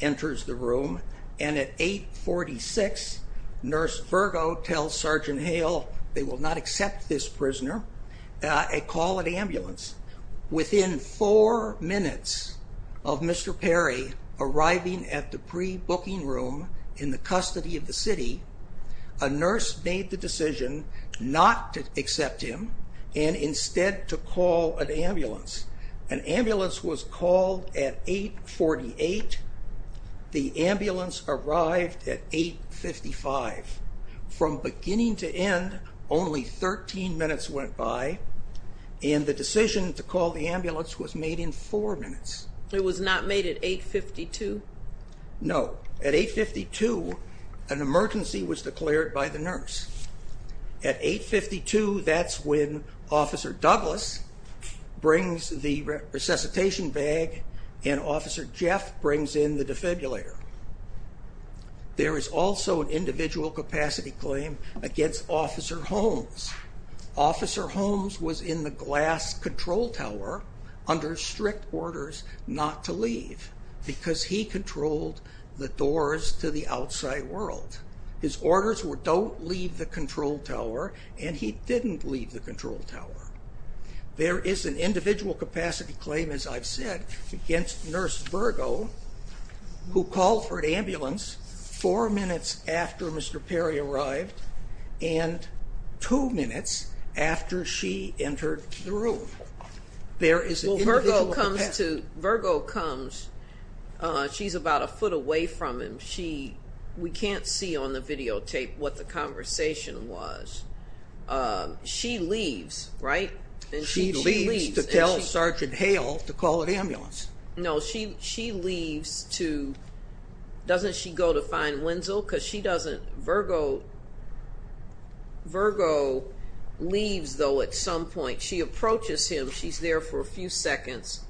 enters the room. And at 846, Nurse Virgo tells Sergeant Hale they will not accept this prisoner. A call at ambulance. Within four minutes of Mr. Perry arriving at the pre-booking room in the custody of the city, a nurse made the decision not to accept him and instead to call an ambulance. An ambulance was called at 848. The ambulance arrived at 855. From beginning to end, only 13 minutes went by, and the decision to call the ambulance was made in four minutes. It was not made at 852? No. At 852, an emergency was declared by the nurse. At 852, that's when Officer Douglas brings the resuscitation bag and Officer Jeff brings in the defibrillator. There is also an individual capacity claim against Officer Holmes. Officer Holmes was in the glass control tower under strict orders not to leave because he controlled the doors to the outside world. His orders were don't leave the control tower, and he didn't leave the control tower. There is an individual capacity claim, as I've said, against Nurse Virgo who called for an ambulance four minutes after Mr. Perry arrived and two minutes after she entered the room. There is an individual capacity. Well, Virgo comes. She's about a foot away from him. We can't see on the videotape what the conversation was. She leaves, right? She leaves to tell Sergeant Hale to call an ambulance. No, she leaves to—doesn't she go to find Wenzel? Because she doesn't—Virgo leaves, though, at some point. She approaches him. She's there for a few seconds.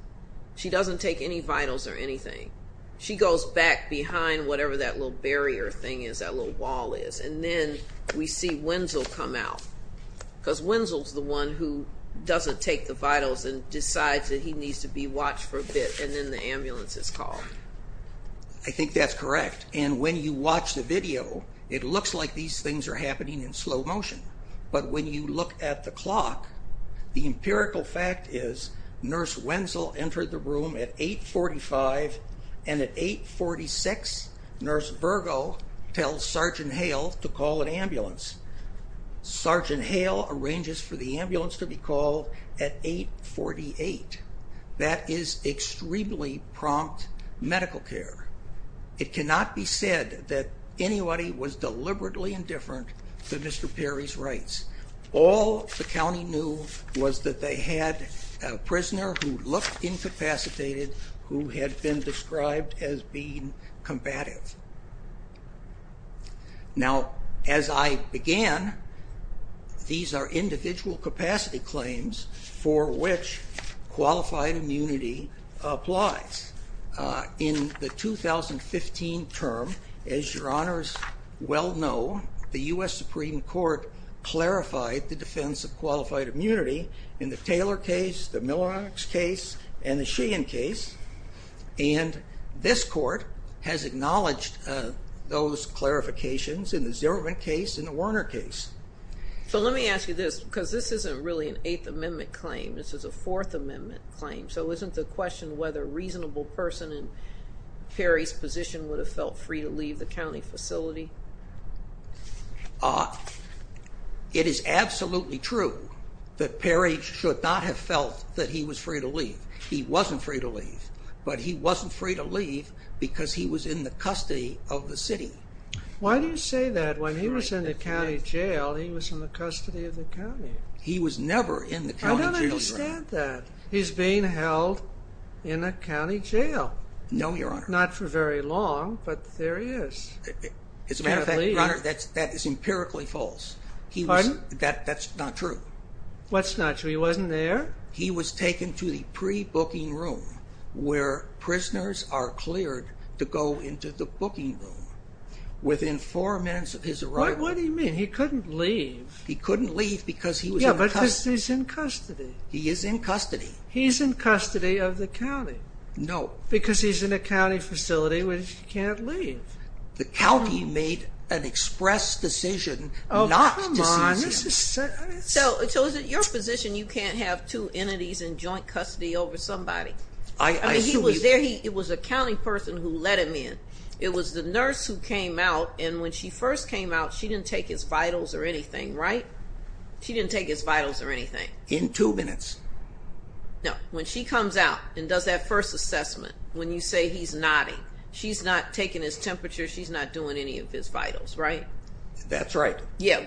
She doesn't take any vitals or anything. She goes back behind whatever that little barrier thing is, that little wall is, and then we see Wenzel come out because Wenzel's the one who doesn't take the vitals and decides that he needs to be watched for a bit, and then the ambulance is called. I think that's correct. And when you watch the video, it looks like these things are happening in slow motion. But when you look at the clock, the empirical fact is Nurse Wenzel entered the room at 8.45, and at 8.46, Nurse Virgo tells Sergeant Hale to call an ambulance. Sergeant Hale arranges for the ambulance to be called at 8.48. That is extremely prompt medical care. It cannot be said that anybody was deliberately indifferent to Mr. Perry's rights. All the county knew was that they had a prisoner who looked incapacitated who had been described as being combative. Now, as I began, these are individual capacity claims for which qualified immunity applies. In the 2015 term, as your honors well know, the U.S. Supreme Court clarified the defense of qualified immunity in the Taylor case, the Miller case, and the Sheehan case, and this court has acknowledged those clarifications in the Zierman case and the Werner case. So let me ask you this, because this isn't really an Eighth Amendment claim. This is a Fourth Amendment claim. So isn't the question whether a reasonable person in Perry's position would have felt free to leave the county facility? It is absolutely true that Perry should not have felt that he was free to leave. He wasn't free to leave, but he wasn't free to leave because he was in the custody of the city. Why do you say that? When he was in the county jail, he was in the custody of the county. He was never in the county jail. I don't understand that. He's being held in a county jail. No, your honor. Not for very long, but there he is. As a matter of fact, your honor, that is empirically false. Pardon? That's not true. What's not true? He wasn't there? He was taken to the pre-booking room where prisoners are cleared to go into the booking room within four minutes of his arrival. What do you mean? He couldn't leave. He couldn't leave because he was in custody. Yeah, but because he's in custody. He is in custody. He's in custody of the county. No. Because he's in a county facility where he can't leave. The county made an express decision not to seize him. Oh, come on. So is it your position you can't have two entities in joint custody over somebody? I assume you can. It was a county person who let him in. It was the nurse who came out, and when she first came out, she didn't take his vitals or anything, right? She didn't take his vitals or anything. In two minutes. No. When she comes out and does that first assessment, when you say he's nodding, she's not taking his temperature. She's not doing any of his vitals, right? That's right. Yeah,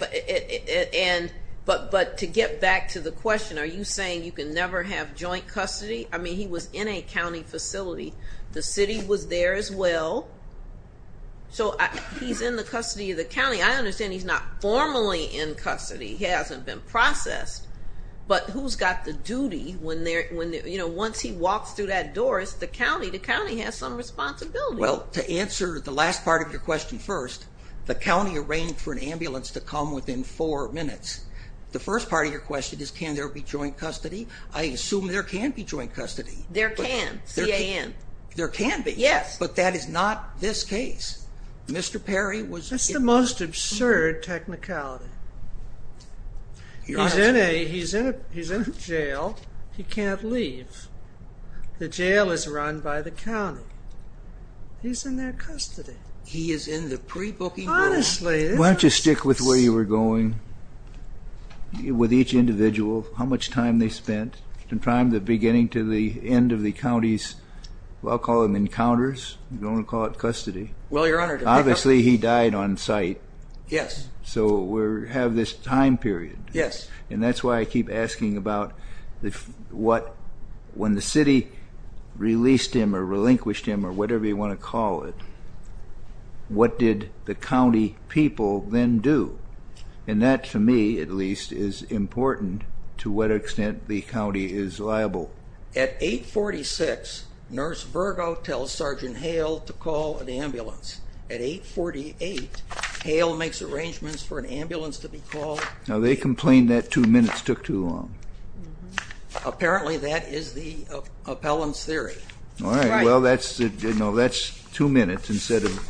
but to get back to the question, are you saying you can never have joint custody? I mean, he was in a county facility. The city was there as well. So he's in the custody of the county. I understand he's not formally in custody. He hasn't been processed. But who's got the duty? Once he walks through that door, it's the county. The county has some responsibility. Well, to answer the last part of your question first, the county arranged for an ambulance to come within four minutes. The first part of your question is, can there be joint custody? I assume there can be joint custody. There can. C-A-N. There can be. Yes. But that is not this case. Mr. Perry was... That's the most absurd technicality. He's in a jail. He can't leave. The jail is run by the county. He's in their custody. He is in the pre-booking room. Honestly, this is... Why don't you stick with where you were going with each individual, how much time they spent, from the beginning to the end of the county's, well, I'll call them encounters. I'm going to call it custody. Well, Your Honor... Obviously, he died on site. Yes. So we have this time period. Yes. And that's why I keep asking about when the city released him or relinquished him or whatever you want to call it, what did the county people then do? And that, to me at least, is important to what extent the county is liable. At 846, Nurse Virgo tells Sergeant Hale to call an ambulance. At 848, Hale makes arrangements for an ambulance to be called. Now, they complained that two minutes took too long. Apparently, that is the appellant's theory. All right. Well, that's two minutes instead of,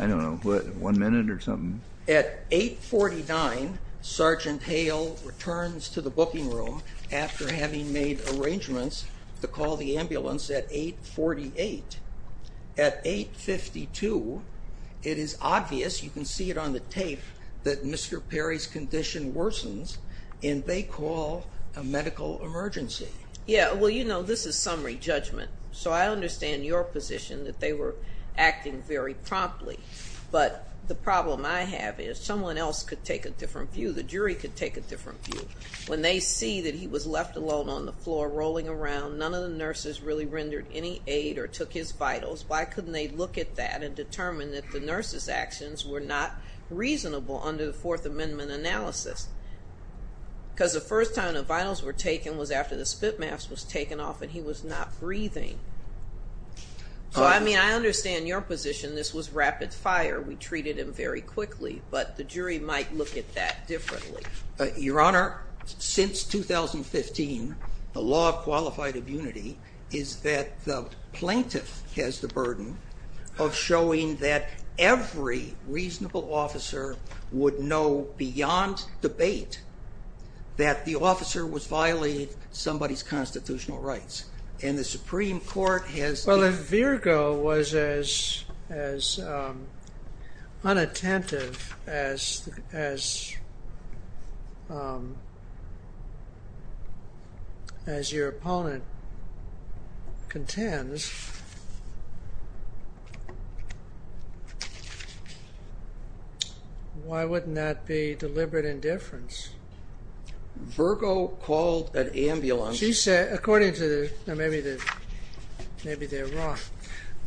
I don't know, one minute or something. At 849, Sergeant Hale returns to the booking room after having made arrangements to call the ambulance at 848. At 852, it is obvious, you can see it on the tape, that Mr. Perry's condition worsens, and they call a medical emergency. Yes. Well, you know, this is summary judgment, so I understand your position that they were acting very promptly. But the problem I have is someone else could take a different view. The jury could take a different view. When they see that he was left alone on the floor rolling around, none of the nurses really rendered any aid or took his vitals, why couldn't they look at that and determine that the nurses' actions were not reasonable under the Fourth Amendment analysis? Because the first time the vitals were taken was after the spit mask was taken off and he was not breathing. So, I mean, I understand your position. This was rapid fire. We treated him very quickly. But the jury might look at that differently. Your Honor, since 2015, the law of qualified immunity is that the plaintiff has the burden of showing that every reasonable officer would know beyond debate that the officer was violating somebody's constitutional rights. And the Supreme Court has... Well, if Virgo was as unattentive as your opponent contends, why wouldn't that be deliberate indifference? Virgo called an ambulance... She said, according to... Maybe they're wrong.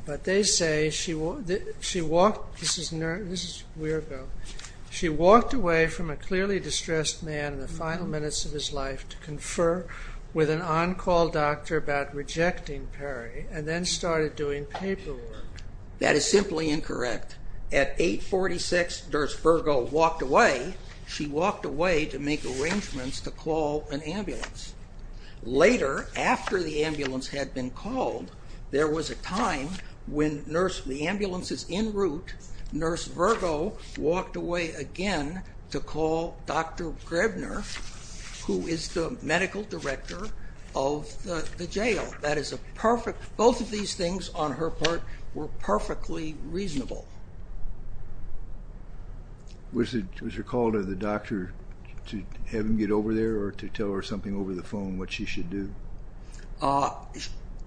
But they say she walked... This is Virgo. She walked away from a clearly distressed man in the final minutes of his life to confer with an on-call doctor about rejecting Perry and then started doing paperwork. That is simply incorrect. At 8.46, Virgo walked away. She walked away to make arrangements to call an ambulance. Later, after the ambulance had been called, there was a time when the ambulance is en route, Nurse Virgo walked away again to call Dr. Grebner, who is the medical director of the jail. That is a perfect... Both of these things, on her part, were perfectly reasonable. Was your call to the doctor to have him get over there or to tell her something over the phone, what she should do?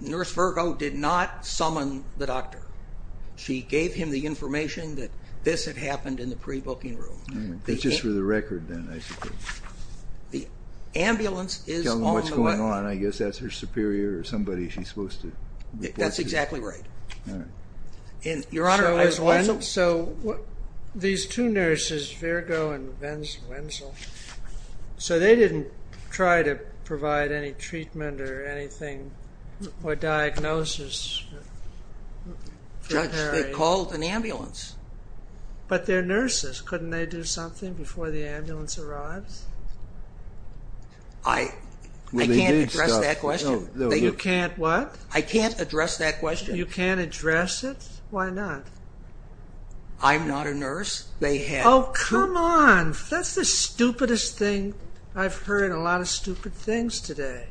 Nurse Virgo did not summon the doctor. She gave him the information that this had happened in the pre-booking room. That's just for the record, then, I suppose. The ambulance is on the way. Tell them what's going on. I guess that's her superior or somebody she's supposed to report to. That's exactly right. Your Honor, I also... So, these two nurses, Virgo and Wenzel, they didn't try to provide any treatment or anything or diagnosis? Judge, they called an ambulance. But they're nurses. Couldn't they do something before the ambulance arrives? I can't address that question. You can't what? I can't address that question. You can't address it? Why not? I'm not a nurse. They have... Oh, come on. That's the stupidest thing... I've heard a lot of stupid things today.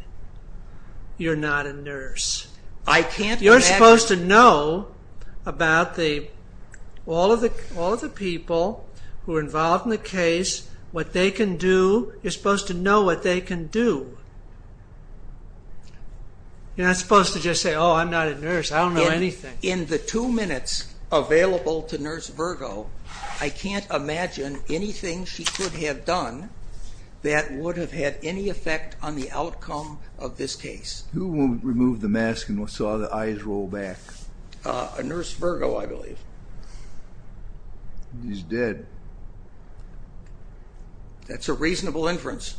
You're not a nurse. I can't imagine... You're supposed to know about the... all of the people who are involved in the case, what they can do. You're supposed to know what they can do. You're not supposed to just say, Oh, I'm not a nurse. I don't know anything. In the two minutes available to Nurse Virgo, I can't imagine anything she could have done that would have had any effect on the outcome of this case. Who removed the mask and saw the eyes roll back? Nurse Virgo, I believe. He's dead. That's a reasonable inference.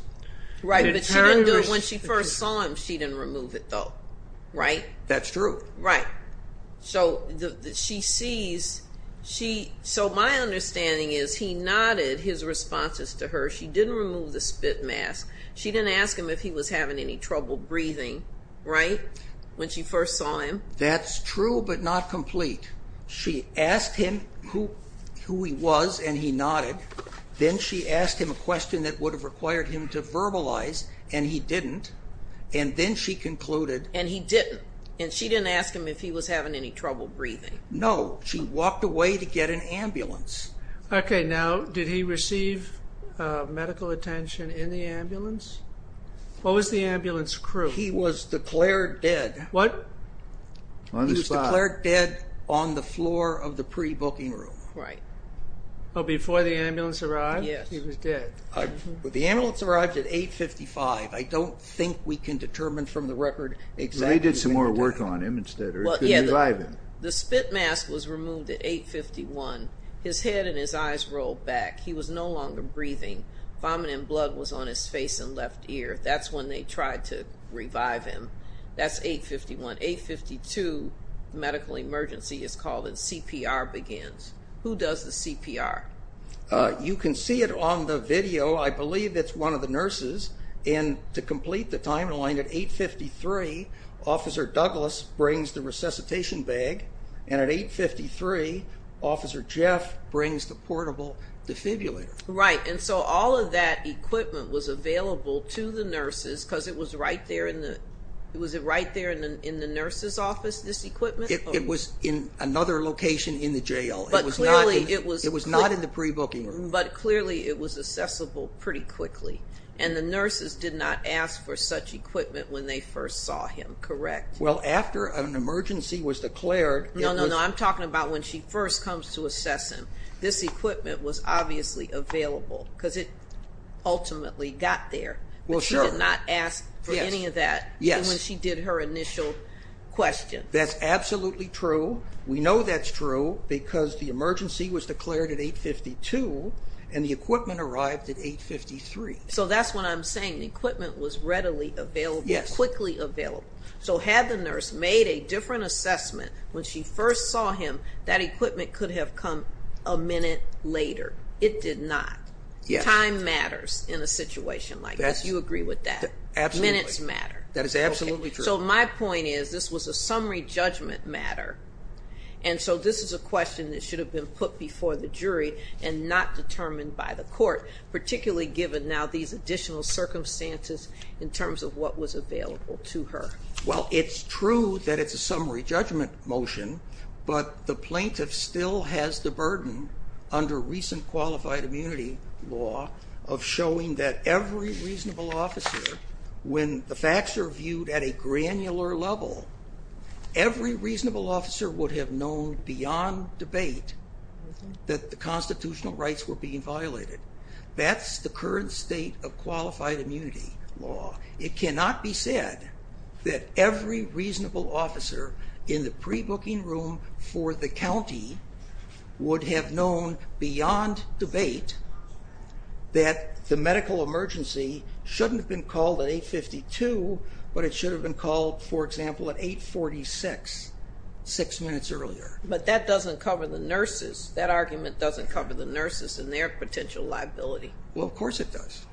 Right, but she didn't do it when she first saw him. She didn't remove it, though. Right? That's true. Right. So she sees... So my understanding is he nodded his responses to her. She didn't remove the spit mask. She didn't ask him if he was having any trouble breathing. Right? When she first saw him. That's true, but not complete. She asked him who he was, and he nodded. Then she asked him a question that would have required him to verbalize, and he didn't. And then she concluded... And he didn't. And she didn't ask him if he was having any trouble breathing. No. She walked away to get an ambulance. Okay. Now, did he receive medical attention in the ambulance? What was the ambulance crew? He was declared dead. What? On the spot. He was declared dead on the floor of the pre-booking room. Right. Oh, before the ambulance arrived? Yes. He was dead. The ambulance arrived at 855. I don't think we can determine from the record exactly... Well, they did some more work on him instead. It could revive him. The spit mask was removed at 851. His head and his eyes rolled back. He was no longer breathing. Vomiting blood was on his face and left ear. That's when they tried to revive him. That's 851. 852, medical emergency is called, and CPR begins. Who does the CPR? You can see it on the video. I believe it's one of the nurses. To complete the timeline, at 853, Officer Douglas brings the resuscitation bag, and at 853, Officer Jeff brings the portable defibrillator. Right, and so all of that equipment was available to the nurses because it was right there in the nurse's office, this equipment? It was in another location in the jail. It was not in the pre-booking room. But clearly it was accessible pretty quickly. And the nurses did not ask for such equipment when they first saw him, correct? Well, after an emergency was declared. No, no, no. I'm talking about when she first comes to assess him. This equipment was obviously available because it ultimately got there. But she did not ask for any of that when she did her initial question. That's absolutely true. We know that's true because the emergency was declared at 852, and the equipment arrived at 853. So that's what I'm saying. The equipment was readily available, quickly available. So had the nurse made a different assessment when she first saw him, that equipment could have come a minute later. It did not. Time matters in a situation like this. You agree with that? Absolutely. Minutes matter. That is absolutely true. So my point is this was a summary judgment matter, and so this is a question that should have been put before the jury and not determined by the court, particularly given now these additional circumstances in terms of what was available to her. Well, it's true that it's a summary judgment motion, but the plaintiff still has the burden, under recent qualified immunity law, of showing that every reasonable officer, when the facts are viewed at a granular level, every reasonable officer would have known beyond debate that the constitutional rights were being violated. That's the current state of qualified immunity law. It cannot be said that every reasonable officer in the pre-booking room for the county would have known beyond debate that the medical emergency shouldn't have been called at 852, but it should have been called, for example, at 846, six minutes earlier. But that doesn't cover the nurses. That argument doesn't cover the nurses and their potential liability. Well, of course it does.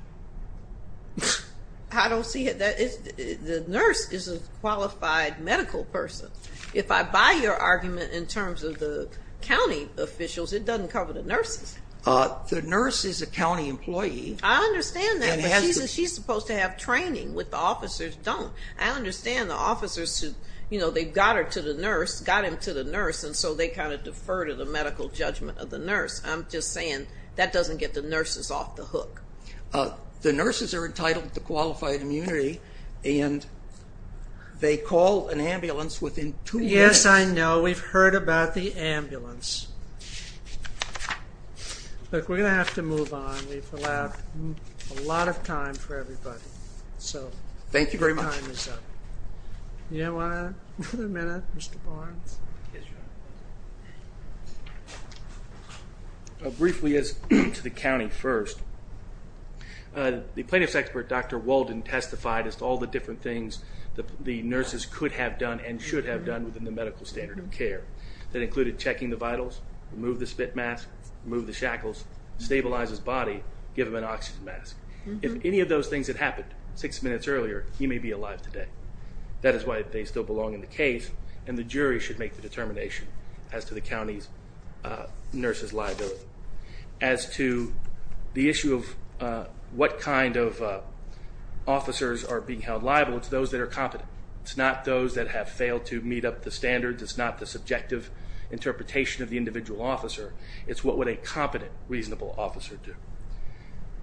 I don't see it. The nurse is a qualified medical person. If I buy your argument in terms of the county officials, it doesn't cover the nurses. The nurse is a county employee. I understand that, but she's supposed to have training, but the officers don't. I understand the officers, you know, they got her to the nurse, got him to the nurse, and so they kind of deferred to the medical judgment of the nurse. I'm just saying that doesn't get the nurses off the hook. The nurses are entitled to qualified immunity, and they call an ambulance within two minutes. Yes, I know. We've heard about the ambulance. Look, we're going to have to move on. We've allowed a lot of time for everybody. Thank you very much. Do you want another minute, Mr. Barnes? Briefly, as to the county first, the plaintiff's expert, Dr. Walden, testified as to all the different things the nurses could have done and should have done within the medical standard of care. That included checking the vitals, remove the spit mask, remove the shackles, stabilize his body, give him an oxygen mask. If any of those things had happened six minutes earlier, he may be alive today. That is why they still belong in the case, and the jury should make the determination as to the county nurse's liability. As to the issue of what kind of officers are being held liable, it's those that are competent. It's not those that have failed to meet up the standards. It's not the subjective interpretation of the individual officer. It's what would a competent, reasonable officer do.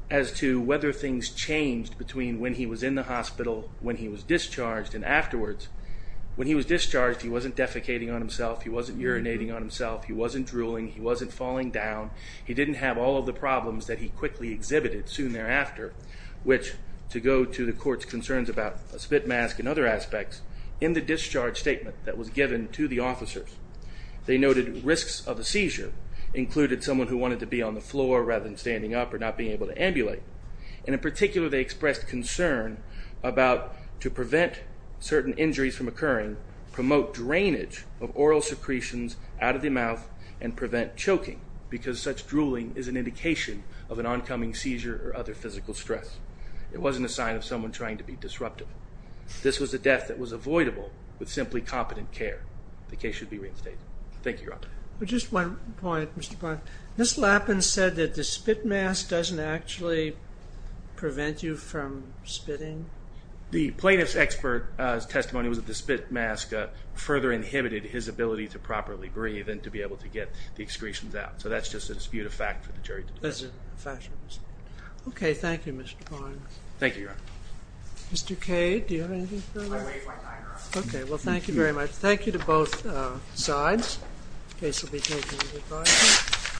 As to whether things changed between when he was in the hospital, when he was discharged, and afterwards, when he was discharged, he wasn't defecating on himself, he wasn't urinating on himself, he wasn't drooling, he wasn't falling down. He didn't have all of the problems that he quickly exhibited soon thereafter, which, to go to the court's concerns about a spit mask and other aspects, in the discharge statement that was given to the officers, they noted risks of a seizure included someone who wanted to be on the floor rather than standing up or not being able to ambulate, and in particular they expressed concern about to prevent certain injuries from occurring, promote drainage of oral secretions out of the mouth, and prevent choking, because such drooling is an indication of an oncoming seizure or other physical stress. It wasn't a sign of someone trying to be disruptive. This was a death that was avoidable with simply competent care. The case should be reinstated. Thank you, Your Honor. Just one point, Mr. Pond. Ms. Lappin said that the spit mask doesn't actually prevent you from spitting? The plaintiff's expert testimony was that the spit mask further inhibited his ability to properly breathe and to be able to get the excretions out. So that's just a dispute of fact for the jury to determine. That's a dispute of fact. Okay, thank you, Mr. Pond. Thank you, Your Honor. Mr. Cade, do you have anything further? I waive my time, Your Honor. Okay, well, thank you very much. Thank you to both sides. The case will be adjourned.